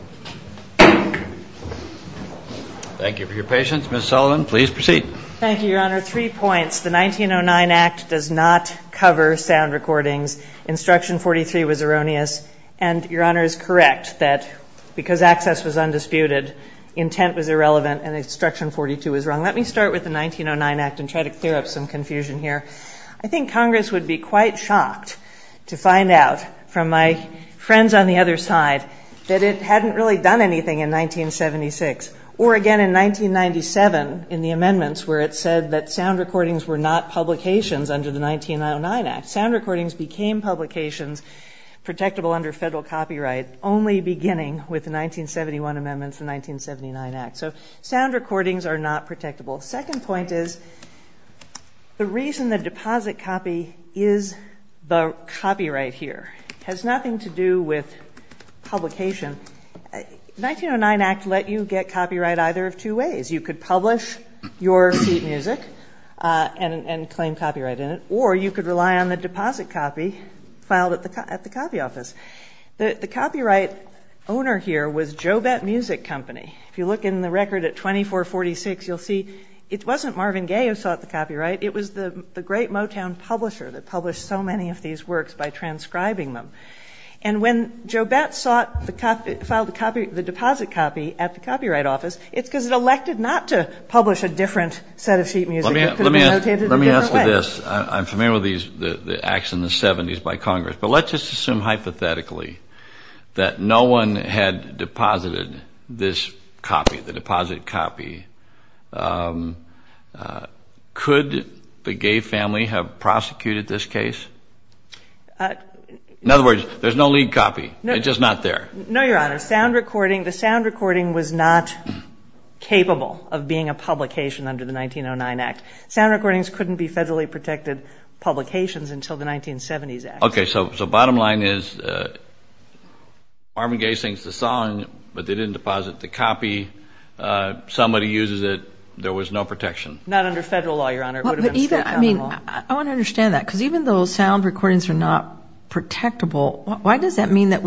Thank you for your patience. Ms. Zolomon, please proceed. Thank you, Your Honor. Three points. The 1909 Act does not cover sound recordings. Instruction 43 was erroneous, Thank you. All rise. This court stands in recess for two minutes. Instruction 43 was erroneous. Intent was irrelevant, and Instruction 42 was wrong. Let me start with the 1909 Act and try to clear up some confusion here. I think Congress would be quite shocked to find out from my friends on the other side that it hadn't really done anything in 1976, or again in 1997 in the amendments where it said that sound recordings were not publications under the 1909 Act. Sound recordings became publications protectable under federal copyright only beginning with the 1971 amendments to the 1979 Act. So sound recordings are not protectable. Second point is the reason the deposit copy is the copyright here has nothing to do with publication. The 1909 Act let you get copyright either of two ways. You could publish your sheet music and claim copyright in it, or you could rely on the deposit copy filed at the copy office. The copyright owner here was Jobette Music Company. If you look in the record at 2446, you'll see it wasn't Marvin Gaye who sought the copyright. It was the great Motown publisher that published so many of these works by transcribing them. And when Jobette filed the deposit copy at the copyright office, it's because it elected not to publish a different set of sheet music. Let me ask you this. I'm familiar with the Acts in the 70s by Congress, but let's just assume hypothetically that no one had deposited this copy, the deposit copy. Could the Gaye family have prosecuted this case? In other words, there's no lead copy. It's just not there. No, Your Honor. The sound recording was not capable of being a publication under the 1909 Act. Sound recordings couldn't be federally protected publications until the 1970s Act. Okay, so bottom line is Marvin Gaye sings the song, but they didn't deposit the copy. Somebody uses it. There was no protection. Not under federal law, Your Honor. I want to understand that, because even though sound recordings are not protectable, why does that mean that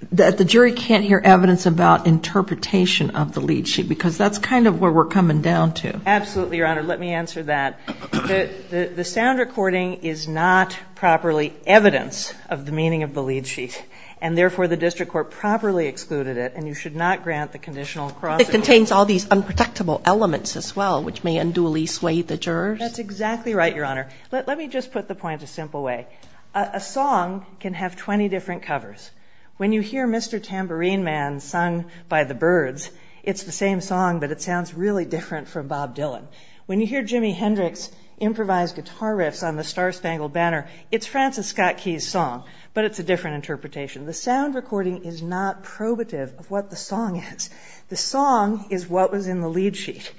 the jury can't hear evidence about interpretation of the lead sheet? Because that's kind of where we're coming down to. Absolutely, Your Honor. Let me answer that. The sound recording is not properly evidence of the meaning of the lead sheet, and therefore the district court properly excluded it, and you should not grant the conditional cross-examination. It contains all these unprotectable elements as well, which may unduly sway the jurors. That's exactly right, Your Honor. Let me just put the point a simple way. A song can have 20 different covers. When you hear Mr. Tambourine Man sung by the Byrds, it's the same song, but it sounds really different from Bob Dylan. When you hear Jimi Hendrix improvise guitar riffs on The Star-Spangled Banner, it's Francis Scott Key's song, but it's a different interpretation. The sound recording is not probative of what the song is. The song is what was in the lead sheet,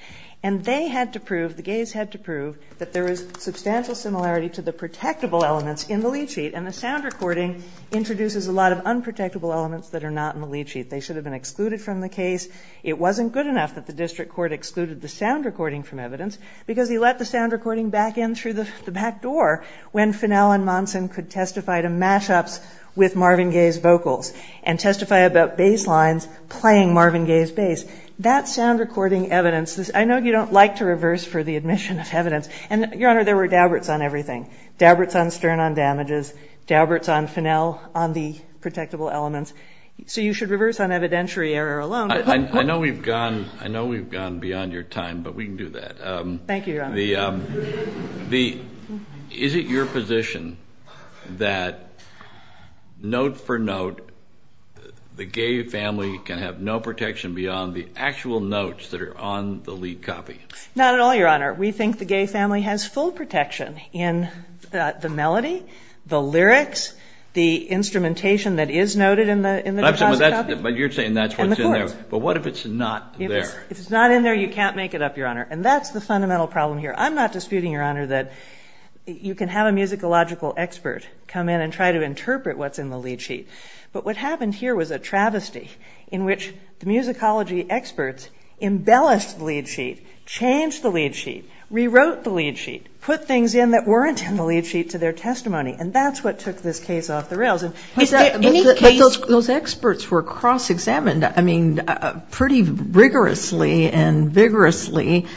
and they had to prove, the Gayes had to prove, that there is substantial similarity to the protectable elements in the lead sheet, and the sound recording introduces a lot of unprotectable elements that are not in the lead sheet. They should have been excluded from the case. It wasn't good enough that the district court excluded the sound recording from evidence, because he let the sound recording back in through the back door when Finnell and Monson could testify to mash-ups with Marvin Gaye's vocals and testify about bass lines playing Marvin Gaye's bass. That sound recording evidence, I know you don't like to reverse for the admission of evidence, and, Your Honor, there were dabberts on everything. Dabberts on Stern on damages, dabberts on Finnell on the protectable elements. So you should reverse on evidentiary error alone. I know we've gone beyond your time, but we can do that. Thank you, Your Honor. Is it your position that, note for note, the Gaye family can have no protection beyond the actual notes that are on the lead copy? Not at all, Your Honor. We think the Gaye family has full protection in the melody, the lyrics, the instrumentation that is noted in the copy. But you're saying that's what's in there. But what if it's not there? If it's not in there, you can't make it up, Your Honor. And that's the fundamental problem here. I'm not disputing, Your Honor, that you can have a musicological expert come in and try to interpret what's in the lead sheet. But what happened here was a travesty in which the musicology experts embellished the lead sheet, changed the lead sheet, rewrote the lead sheet, put things in that weren't in the lead sheet to their testimony, and that's what took this case off the rails. Those experts were cross-examined, I mean, pretty rigorously and vigorously.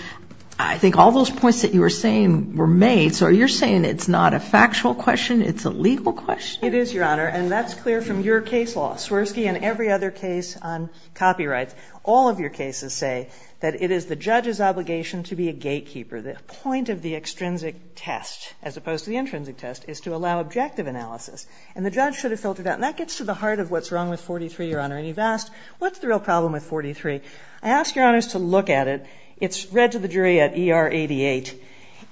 I think all those points that you were saying were made, so you're saying it's not a factual question, it's a legal question? It is, Your Honor, and that's clear from your case law, Swirsky and every other case on copyright. All of your cases say that it is the judge's obligation to be a gatekeeper. The point of the extrinsic test, as opposed to the intrinsic test, is to allow objective analysis. And the judge should have filtered that, and that gets to the heart of what's wrong with 43, Your Honor. And you've asked, what's the real problem with 43? I asked Your Honors to look at it. It's read to the jury at ER 88,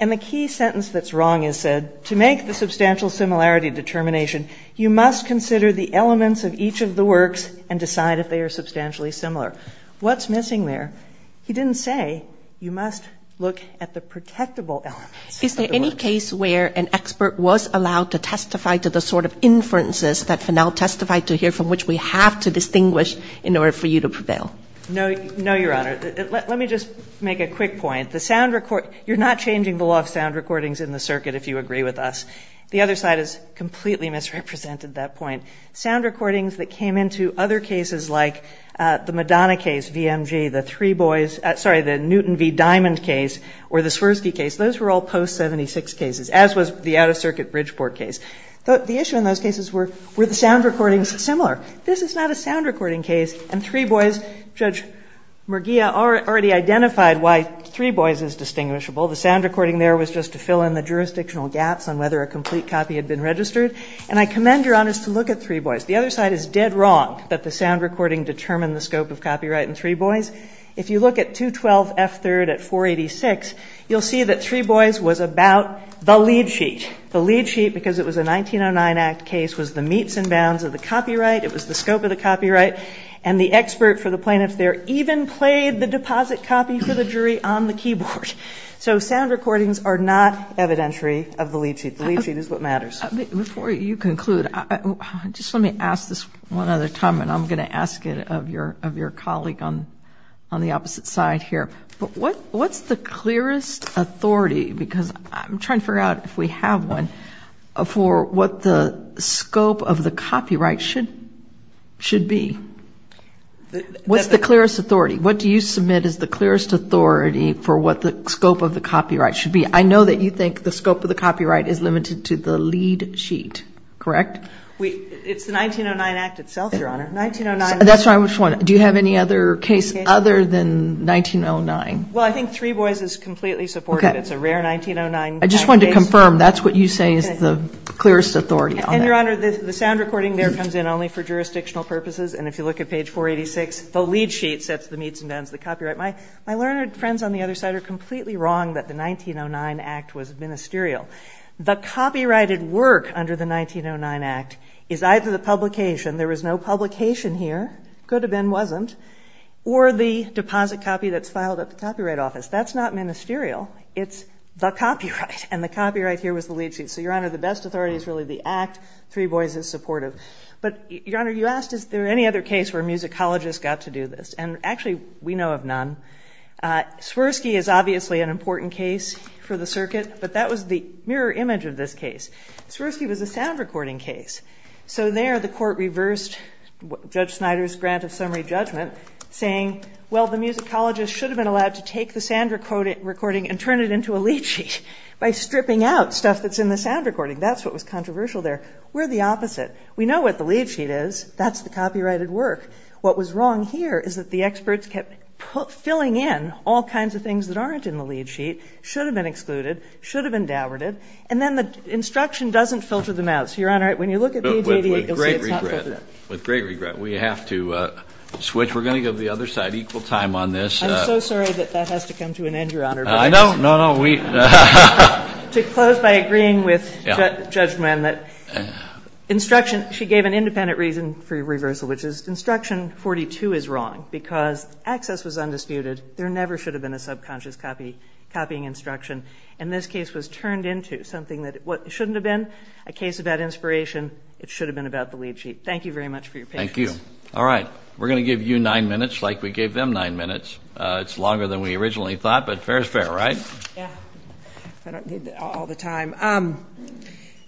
and the key sentence that's wrong is said, to make the substantial similarity determination, you must consider the elements of each of the works and decide if they are substantially similar. What's missing there? He didn't say, you must look at the protectable elements. Is there any case where an expert was allowed to testify to the sort of inferences that Finnell testified to here, from which we have to distinguish in order for you to prevail? No, Your Honor. Let me just make a quick point. You're not changing the law of sound recordings in the circuit, if you agree with us. The other side has completely misrepresented that point. Sound recordings that came into other cases, like the Madonna case, V.M.G., the Three Boys, sorry, the Newton v. Diamond case, or the Swirsky case, those were all post-76 cases, as was the out-of-circuit Bridgeport case. But the issue in those cases were the sound recordings were similar. This is not a sound recording case, and Three Boys, Judge Merguia already identified why Three Boys is distinguishable. The sound recording there was just to fill in the jurisdictional gaps on whether a complete copy had been registered. And I commend Your Honor to look at Three Boys. The other side is dead wrong that the sound recording determined the scope of copyright in Three Boys. If you look at 212 F. 3rd at 486, you'll see that Three Boys was about the lead sheet. The lead sheet, because it was a 1909 act case, was the meets and bounds of the copyright. It was the scope of the copyright. And the expert for the plaintiff there even played the deposit copy for the jury on the keyboard. So sound recordings are not evidentiary of the lead sheet. The lead sheet is what matters. Before you conclude, just let me ask this one other time, and I'm going to ask it of your colleague on the opposite side here. What's the clearest authority, because I'm trying to figure out if we have one, for what the scope of the copyright should be? What's the clearest authority? What do you submit as the clearest authority for what the scope of the copyright should be? I know that you think the scope of the copyright is limited to the lead sheet, correct? It's the 1909 act itself, Your Honor. That's why I'm just wondering, do you have any other case other than 1909? Well, I think Three Boys is completely supported. It's a rare 1909 case. I just wanted to confirm, that's what you say is the clearest authority on that. And, Your Honor, the sound recording there comes in only for jurisdictional purposes, and if you look at page 486, the lead sheet sets the meets and bounds of the copyright. My learned friends on the other side are completely wrong that the 1909 act was ministerial. The copyrighted work under the 1909 act is either the publication, there was no publication here, could have been, wasn't, or the deposit copy that's filed at the Copyright Office. That's not ministerial. It's the copyright, and the copyright here was the lead sheet. So, Your Honor, the best authority is really the act. Three Boys is supportive. But, Your Honor, you asked, is there any other case where musicologists got to do this? And, actually, we know of none. Swirsky is obviously an important case for the circuit, but that was the mirror image of this case. Swirsky was a sound recording case. So, there, the court reversed Judge Snyder's granted summary judgment, saying, well, the musicologist should have been allowed to take the sound recording and turn it into a lead sheet by stripping out stuff that's in the sound recording. That's what was controversial there. We're the opposite. We know what the lead sheet is. That's the copyrighted work. What was wrong here is that the experts kept filling in all kinds of things that aren't in the lead sheet, should have been excluded, should have been downgraded, and then the instruction doesn't filter them out. So, Your Honor, when you look at the ADA, it really can't filter that. With great regret, we have to switch. We're going to go to the other side. Equal time on this. I'm so sorry that that has to come to an end, Your Honor. No, no, no. We... To close by agreeing with Judge Nyen, that instruction, she gave an independent reason for your reversal, which is instruction 42 is wrong because access is undisputed. There never should have been a subconscious copying instruction. And this case was turned into something that shouldn't have been. A case about inspiration. It should have been about the lead sheet. Thank you very much for your patience. Thank you. All right. We're going to give you nine minutes like we gave them nine minutes. It's longer than we originally thought, but fair is fair, right? Yeah. I don't do that all the time.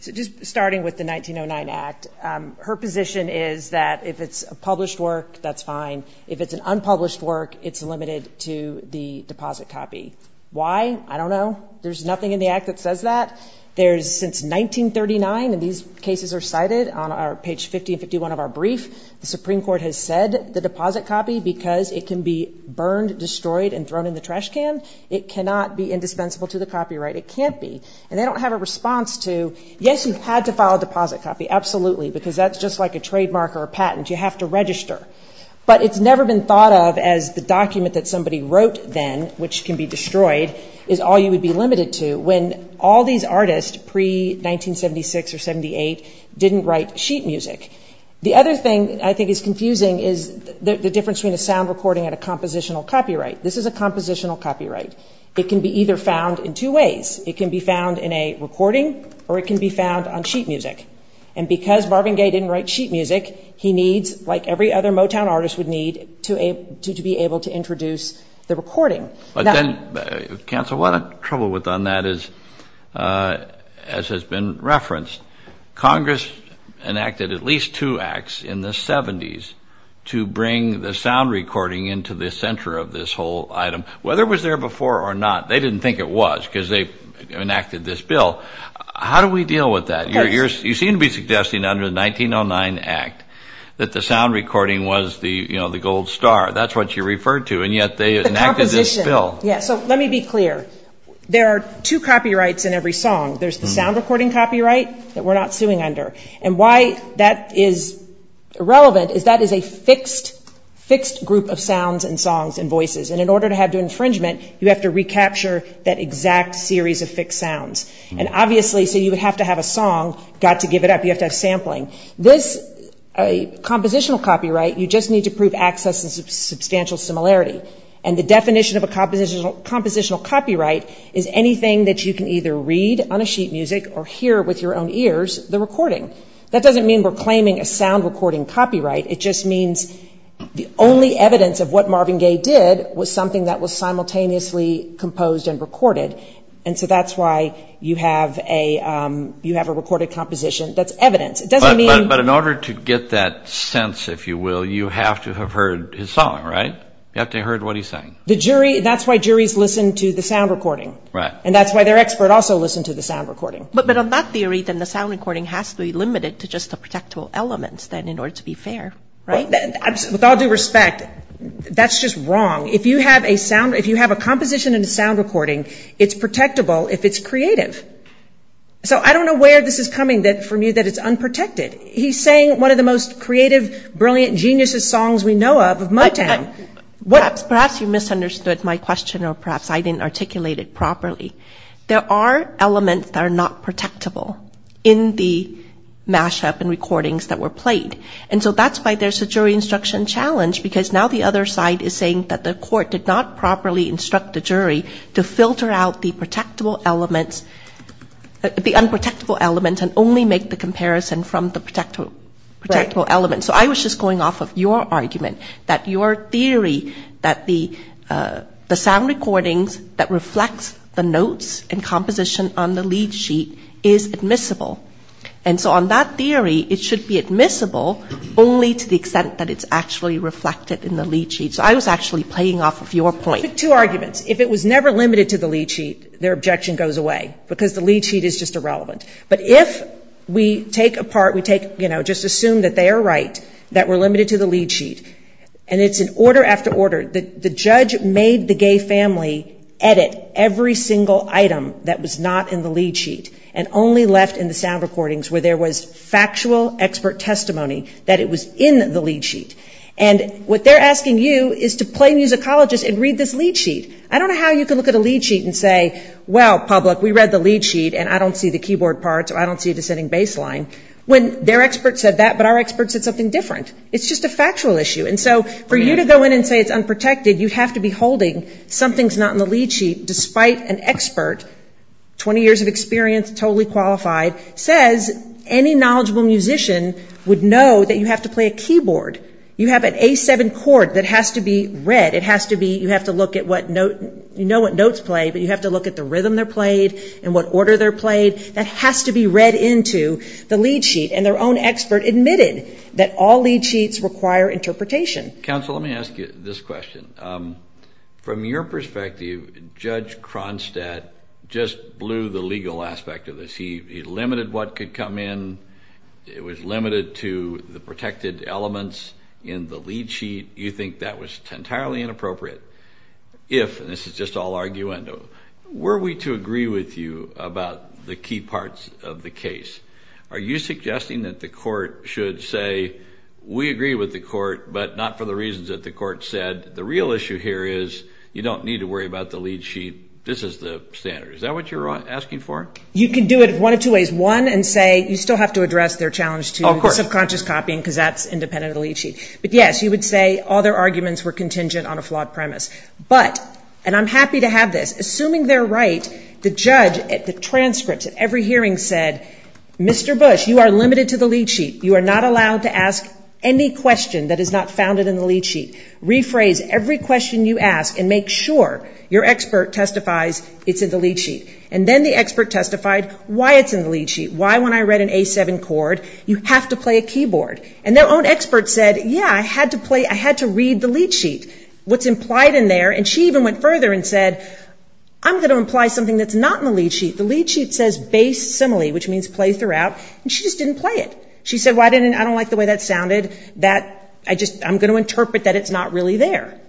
Just starting with the 1909 Act, her position is that if it's a published work, that's fine. If it's an unpublished work, it's limited to the deposit copy. Why? I don't know. There's nothing in the Act that says that. There's... Since 1939, and these cases are cited on page 50 and 51 of our brief, the Supreme Court has said the deposit copy because it can be burned, destroyed, and thrown in the trash can. It cannot be indispensable to the copyright. It can't be. And I don't have a response to, yes, you've had to file a deposit copy. Absolutely. Because that's just like a trademark or a patent. You have to register. But it's never been thought of as the document that somebody wrote then, which can be destroyed, is all you would be limited to when all these artists pre-1976 or 78 didn't write sheet music. The other thing I think is confusing is the difference between a sound recording and a compositional copyright. This is a compositional copyright. It can be either found in two ways. It can be found in a recording or it can be found on sheet music. And because Marvin Gaye didn't write sheet music, he needs, like every other Motown artist would need, to be able to introduce the recording. But then, Cancel, what I'm troubled with on that is, as has been referenced, Congress enacted at least two acts in the 70s to bring the sound recording into the center of this whole item. Whether it was there before or not, they didn't think it was because they enacted this bill. How do we deal with that? You seem to be suggesting under the 1909 Act that the sound recording was the gold star. That's what you referred to, and yet they enacted this bill. Let me be clear. There are two copyrights in every song. There's the sound recording copyright that we're not suing under. And why that is irrelevant is that is a fixed group of sounds and songs and voices. And in order to have infringement, you have to recapture that exact series of fixed sounds. And obviously, so you would have to have a song got to give it up. You have to have sampling. This compositional copyright, you just need to prove access and substantial similarity. And the definition of a compositional copyright is anything that you can either read on a sheet music or hear with your own ears, the recording. That doesn't mean we're claiming a sound recording copyright. It just means the only evidence of what Marvin Gaye did was something that was simultaneously composed and recorded. And so that's why you have a recorded composition that's evidence. It doesn't mean... But in order to get that sense, if you will, you have to have heard his song, right? You have to have heard what he sang. The jury, that's why juries listen to the sound recording. Right. And that's why their expert also listened to the sound recording. But then on that theory, then the sound recording has to be limited to just the practical elements then in order to be fair, right? With all due respect, that's just wrong. If you have a sound, if you have a composition and a sound recording, it's protectable if it's creative. So I don't know where this is coming. It's something that for me that is unprotected. He sang one of the most creative, brilliant, geniuses songs we know of, of my time. Perhaps you misunderstood my question or perhaps I didn't articulate it properly. There are elements that are not protectable in the mashup and recordings that were played. And so that's why there's a jury instruction challenge because now the other side is saying that the court did not properly instruct the jury to filter out the protectable elements, the unprotectable elements and only make the comparison from the protectable elements. So I was just going off of your argument that your theory that the sound recordings that reflect the notes and composition on the lead sheet is admissible. And so on that theory, it should be admissible only to the extent that it's actually reflected in the lead sheet. So I was actually playing off of your point. Two arguments. If it was never limited to the lead sheet, their objection goes away because the lead sheet is just irrelevant. But if we take apart, we take, you know, just assume that they are right, that we're limited to the lead sheet and it's in order after order, the judge made the gay family edit every single item that was not in the lead sheet and only left in the sound recordings where there was factual expert testimony that it was in the lead sheet. And what they're asking you is to play musicologist and read this lead sheet. I don't know how you can look at a lead sheet and say, well, public, we read the lead sheet and I don't see the keyboard parts or I don't see the sitting bass line, when their expert said that but our expert said something different. It's just a factual issue. And so for you to go in and say it's unprotected, you have to be holding something's not in the lead sheet despite an expert, 20 years of experience, totally qualified, says any knowledgeable musician would know that you have to play a keyboard. You have an A7 chord that has to be read. It has to be, you have to look at what note, you know what notes play but you have to look at the rhythm they're playing and what order they're played. That has to be read into the lead sheet and their own expert admitted that all lead sheets require interpretation. Counsel, let me ask you this question. From your perspective, Judge Cronstadt just blew the legal aspect of this. He limited what could come in. It was limited to the protected elements in the lead sheet. You think that was entirely inappropriate. If, and this is just all arguendo, were we to agree with you about the key parts of the case, are you suggesting that the court should say we agree with the court but not for the reasons that the court said. The real issue here is you don't need to worry about the lead sheet. This is the standard. Is that what you're asking for? You could do it one of two ways. One and say you still have to address their challenge to self-conscious copying because that's independent of the lead sheet. Yes, you would say all their arguments were contingent on a flawed premise but, and I'm happy to have this, assuming they're right, the judge at the transcript at every hearing said, Mr. Bush, you are limited to the lead sheet. You are not allowed to ask any question that is not founded in the lead sheet. Rephrase every question you ask and make sure your expert testifies it's in the lead sheet. And then the expert testified why it's in the lead sheet. Why when I read an A7 chord you have to play a keyboard. And their own expert said, yeah, I had to play, I had to read the lead sheet, what's implied in there and she even went further and said, I'm going to imply something that's not in the lead sheet. The lead sheet says bass simile, which means play throughout and she just didn't play it. She said, well I didn't, I don't like the way that sounded, that I just, I'm going to interpret that it's not really there.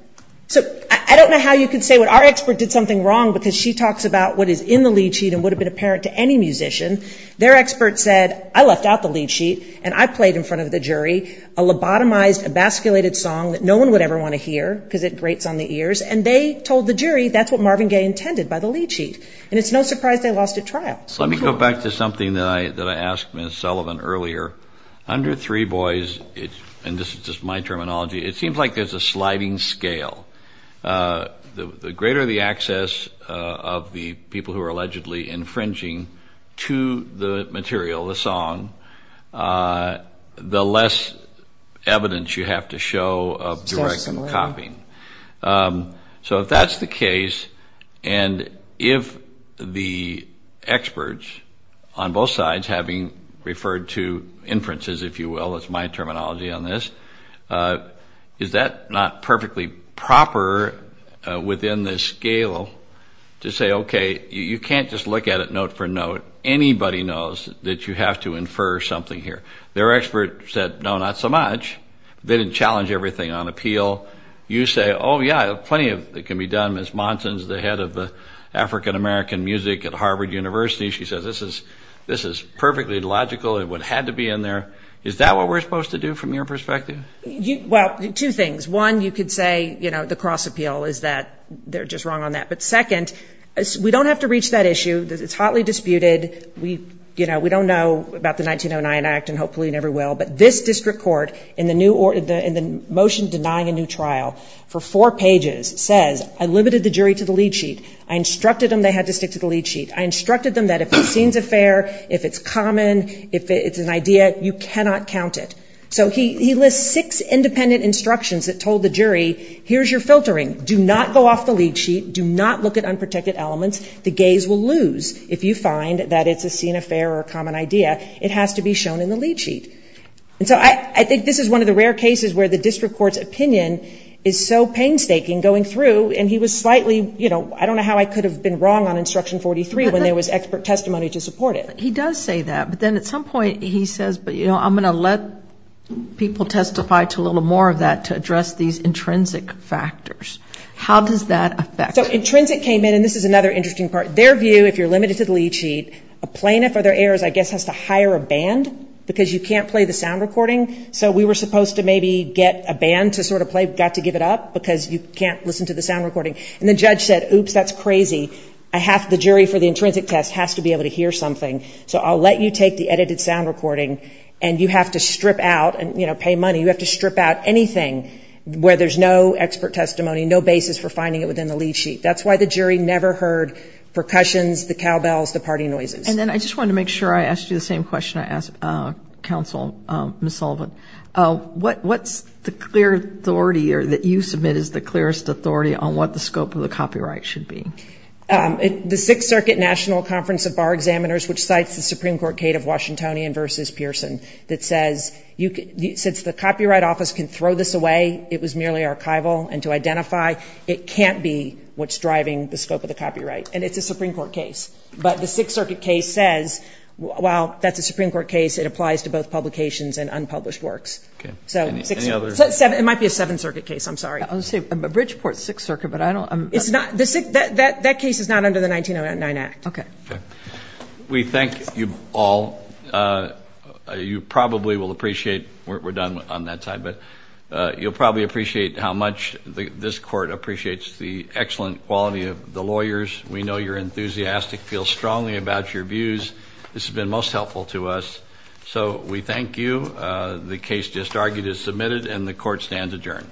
So, I don't know how you could say our expert did something wrong because she talks about what is in the lead sheet and would have been apparent to any musician. Their expert said, I left out the lead sheet and I played in front of the jury a lobotomized, a basculated song that no one would ever want to hear because it grates on the ears and they told the jury that's what Marvin Gaye intended by the lead sheet and it's no surprise they lost the trial. Let me go back to something that I asked Ms. Sullivan earlier. Under Three Boys, and this is just my terminology, it seems like there's a sliding scale. The greater the access of the people of direct copying. So, if that's the case, it's a sliding scale of the people who are allegedly infringing to the material, the song, the less evidence you have to show that that's the case. And if the experts on both sides having referred to inferences, if you will, that's my terminology on this, is that not perfectly proper within the scale to say, okay, you can't just look at it note for note. Anybody knows that you have to infer something here. Their expert said, no, not so much. They didn't challenge everything on appeal. You say, oh, yeah, plenty of it can be done, Ms. Monson. Ms. Monson's the head of the African-American music at Harvard University. She said, this is perfectly logical. It would have to be in there. Is that what we're supposed to do from your perspective? Well, two things. One, you could say, you know, the cross-appeal is that they're just wrong on that. But second, we don't have to reach that issue. It's hotly disputed. We don't know about the 1909 Act and hopefully never will. But this district court in the motion denying a new trial for four pages says, I limited the jury to four pages. I instructed them to stick to the lead sheet. I instructed them they had to stick to the lead sheet. I instructed them that if it seems affair, if it's common, if it's an idea, you cannot count it. So he lists six independent instructions that told the jury, here's your filtering. Do not go off the lead sheet. Do not look at unprotected elements. The gays will lose if you find that it's a seen affair or a common idea. It has to be shown in the lead sheet. And so I think this is one of the rare cases where the district court's opinion is so painstaking going through and he was slightly, I don't know how I could have been wrong on instruction 43 when there was expert testimony to support it. He does say that but then at some point he says, I'm going to let people testify to a little more of that to address these intrinsic factors. How does that affect? So intrinsic came in and this is another interesting part. Their view, if you're limited to the lead sheet, a plaintiff or their heirs I guess has to hire a band because you can't play the sound recording so we were supposed to maybe get a band to sort of play but got to give it up because you can't listen to the sound recording. And the judge said, oops, that's crazy. The jury for the intrinsic test has to be able to hear something so I'll let you take the edited sound recording and you have to strip out and pay money. You have to strip out anything where there's no expert testimony, no basis for finding it within the lead sheet. That's why the jury never heard percussions, the cowbells, the party noises. And then I just want to make sure I ask you the same question I asked counsel Ms. Sullivan. What's the clear authority that you submit as the clearest authority on what the scope of the copyright should be? The Sixth Circuit National Conference of Bar Examiners which cites the Supreme Court case of Washingtonian versus Pearson that says since the Copyright Office can throw this away it was nearly archival and to identify it can't be what's driving the scope of the copyright and it's a Supreme Court case. But the Sixth Circuit case says, well, that's a Supreme Court case that applies to both publications and unpublished works. It might be a Seventh Circuit case I'm sorry. A Bridgeport Sixth Circuit but I don't It's not That case is not under the 1909 Act. Okay. We thank you all. You probably will appreciate we're done on that side but you'll probably appreciate how much this court appreciates the excellent quality of the lawyers. We know you're enthusiastic, feel strongly about your views. This has been most helpful to us. So we thank you. The case just argued is submitted and the court will stand adjourned.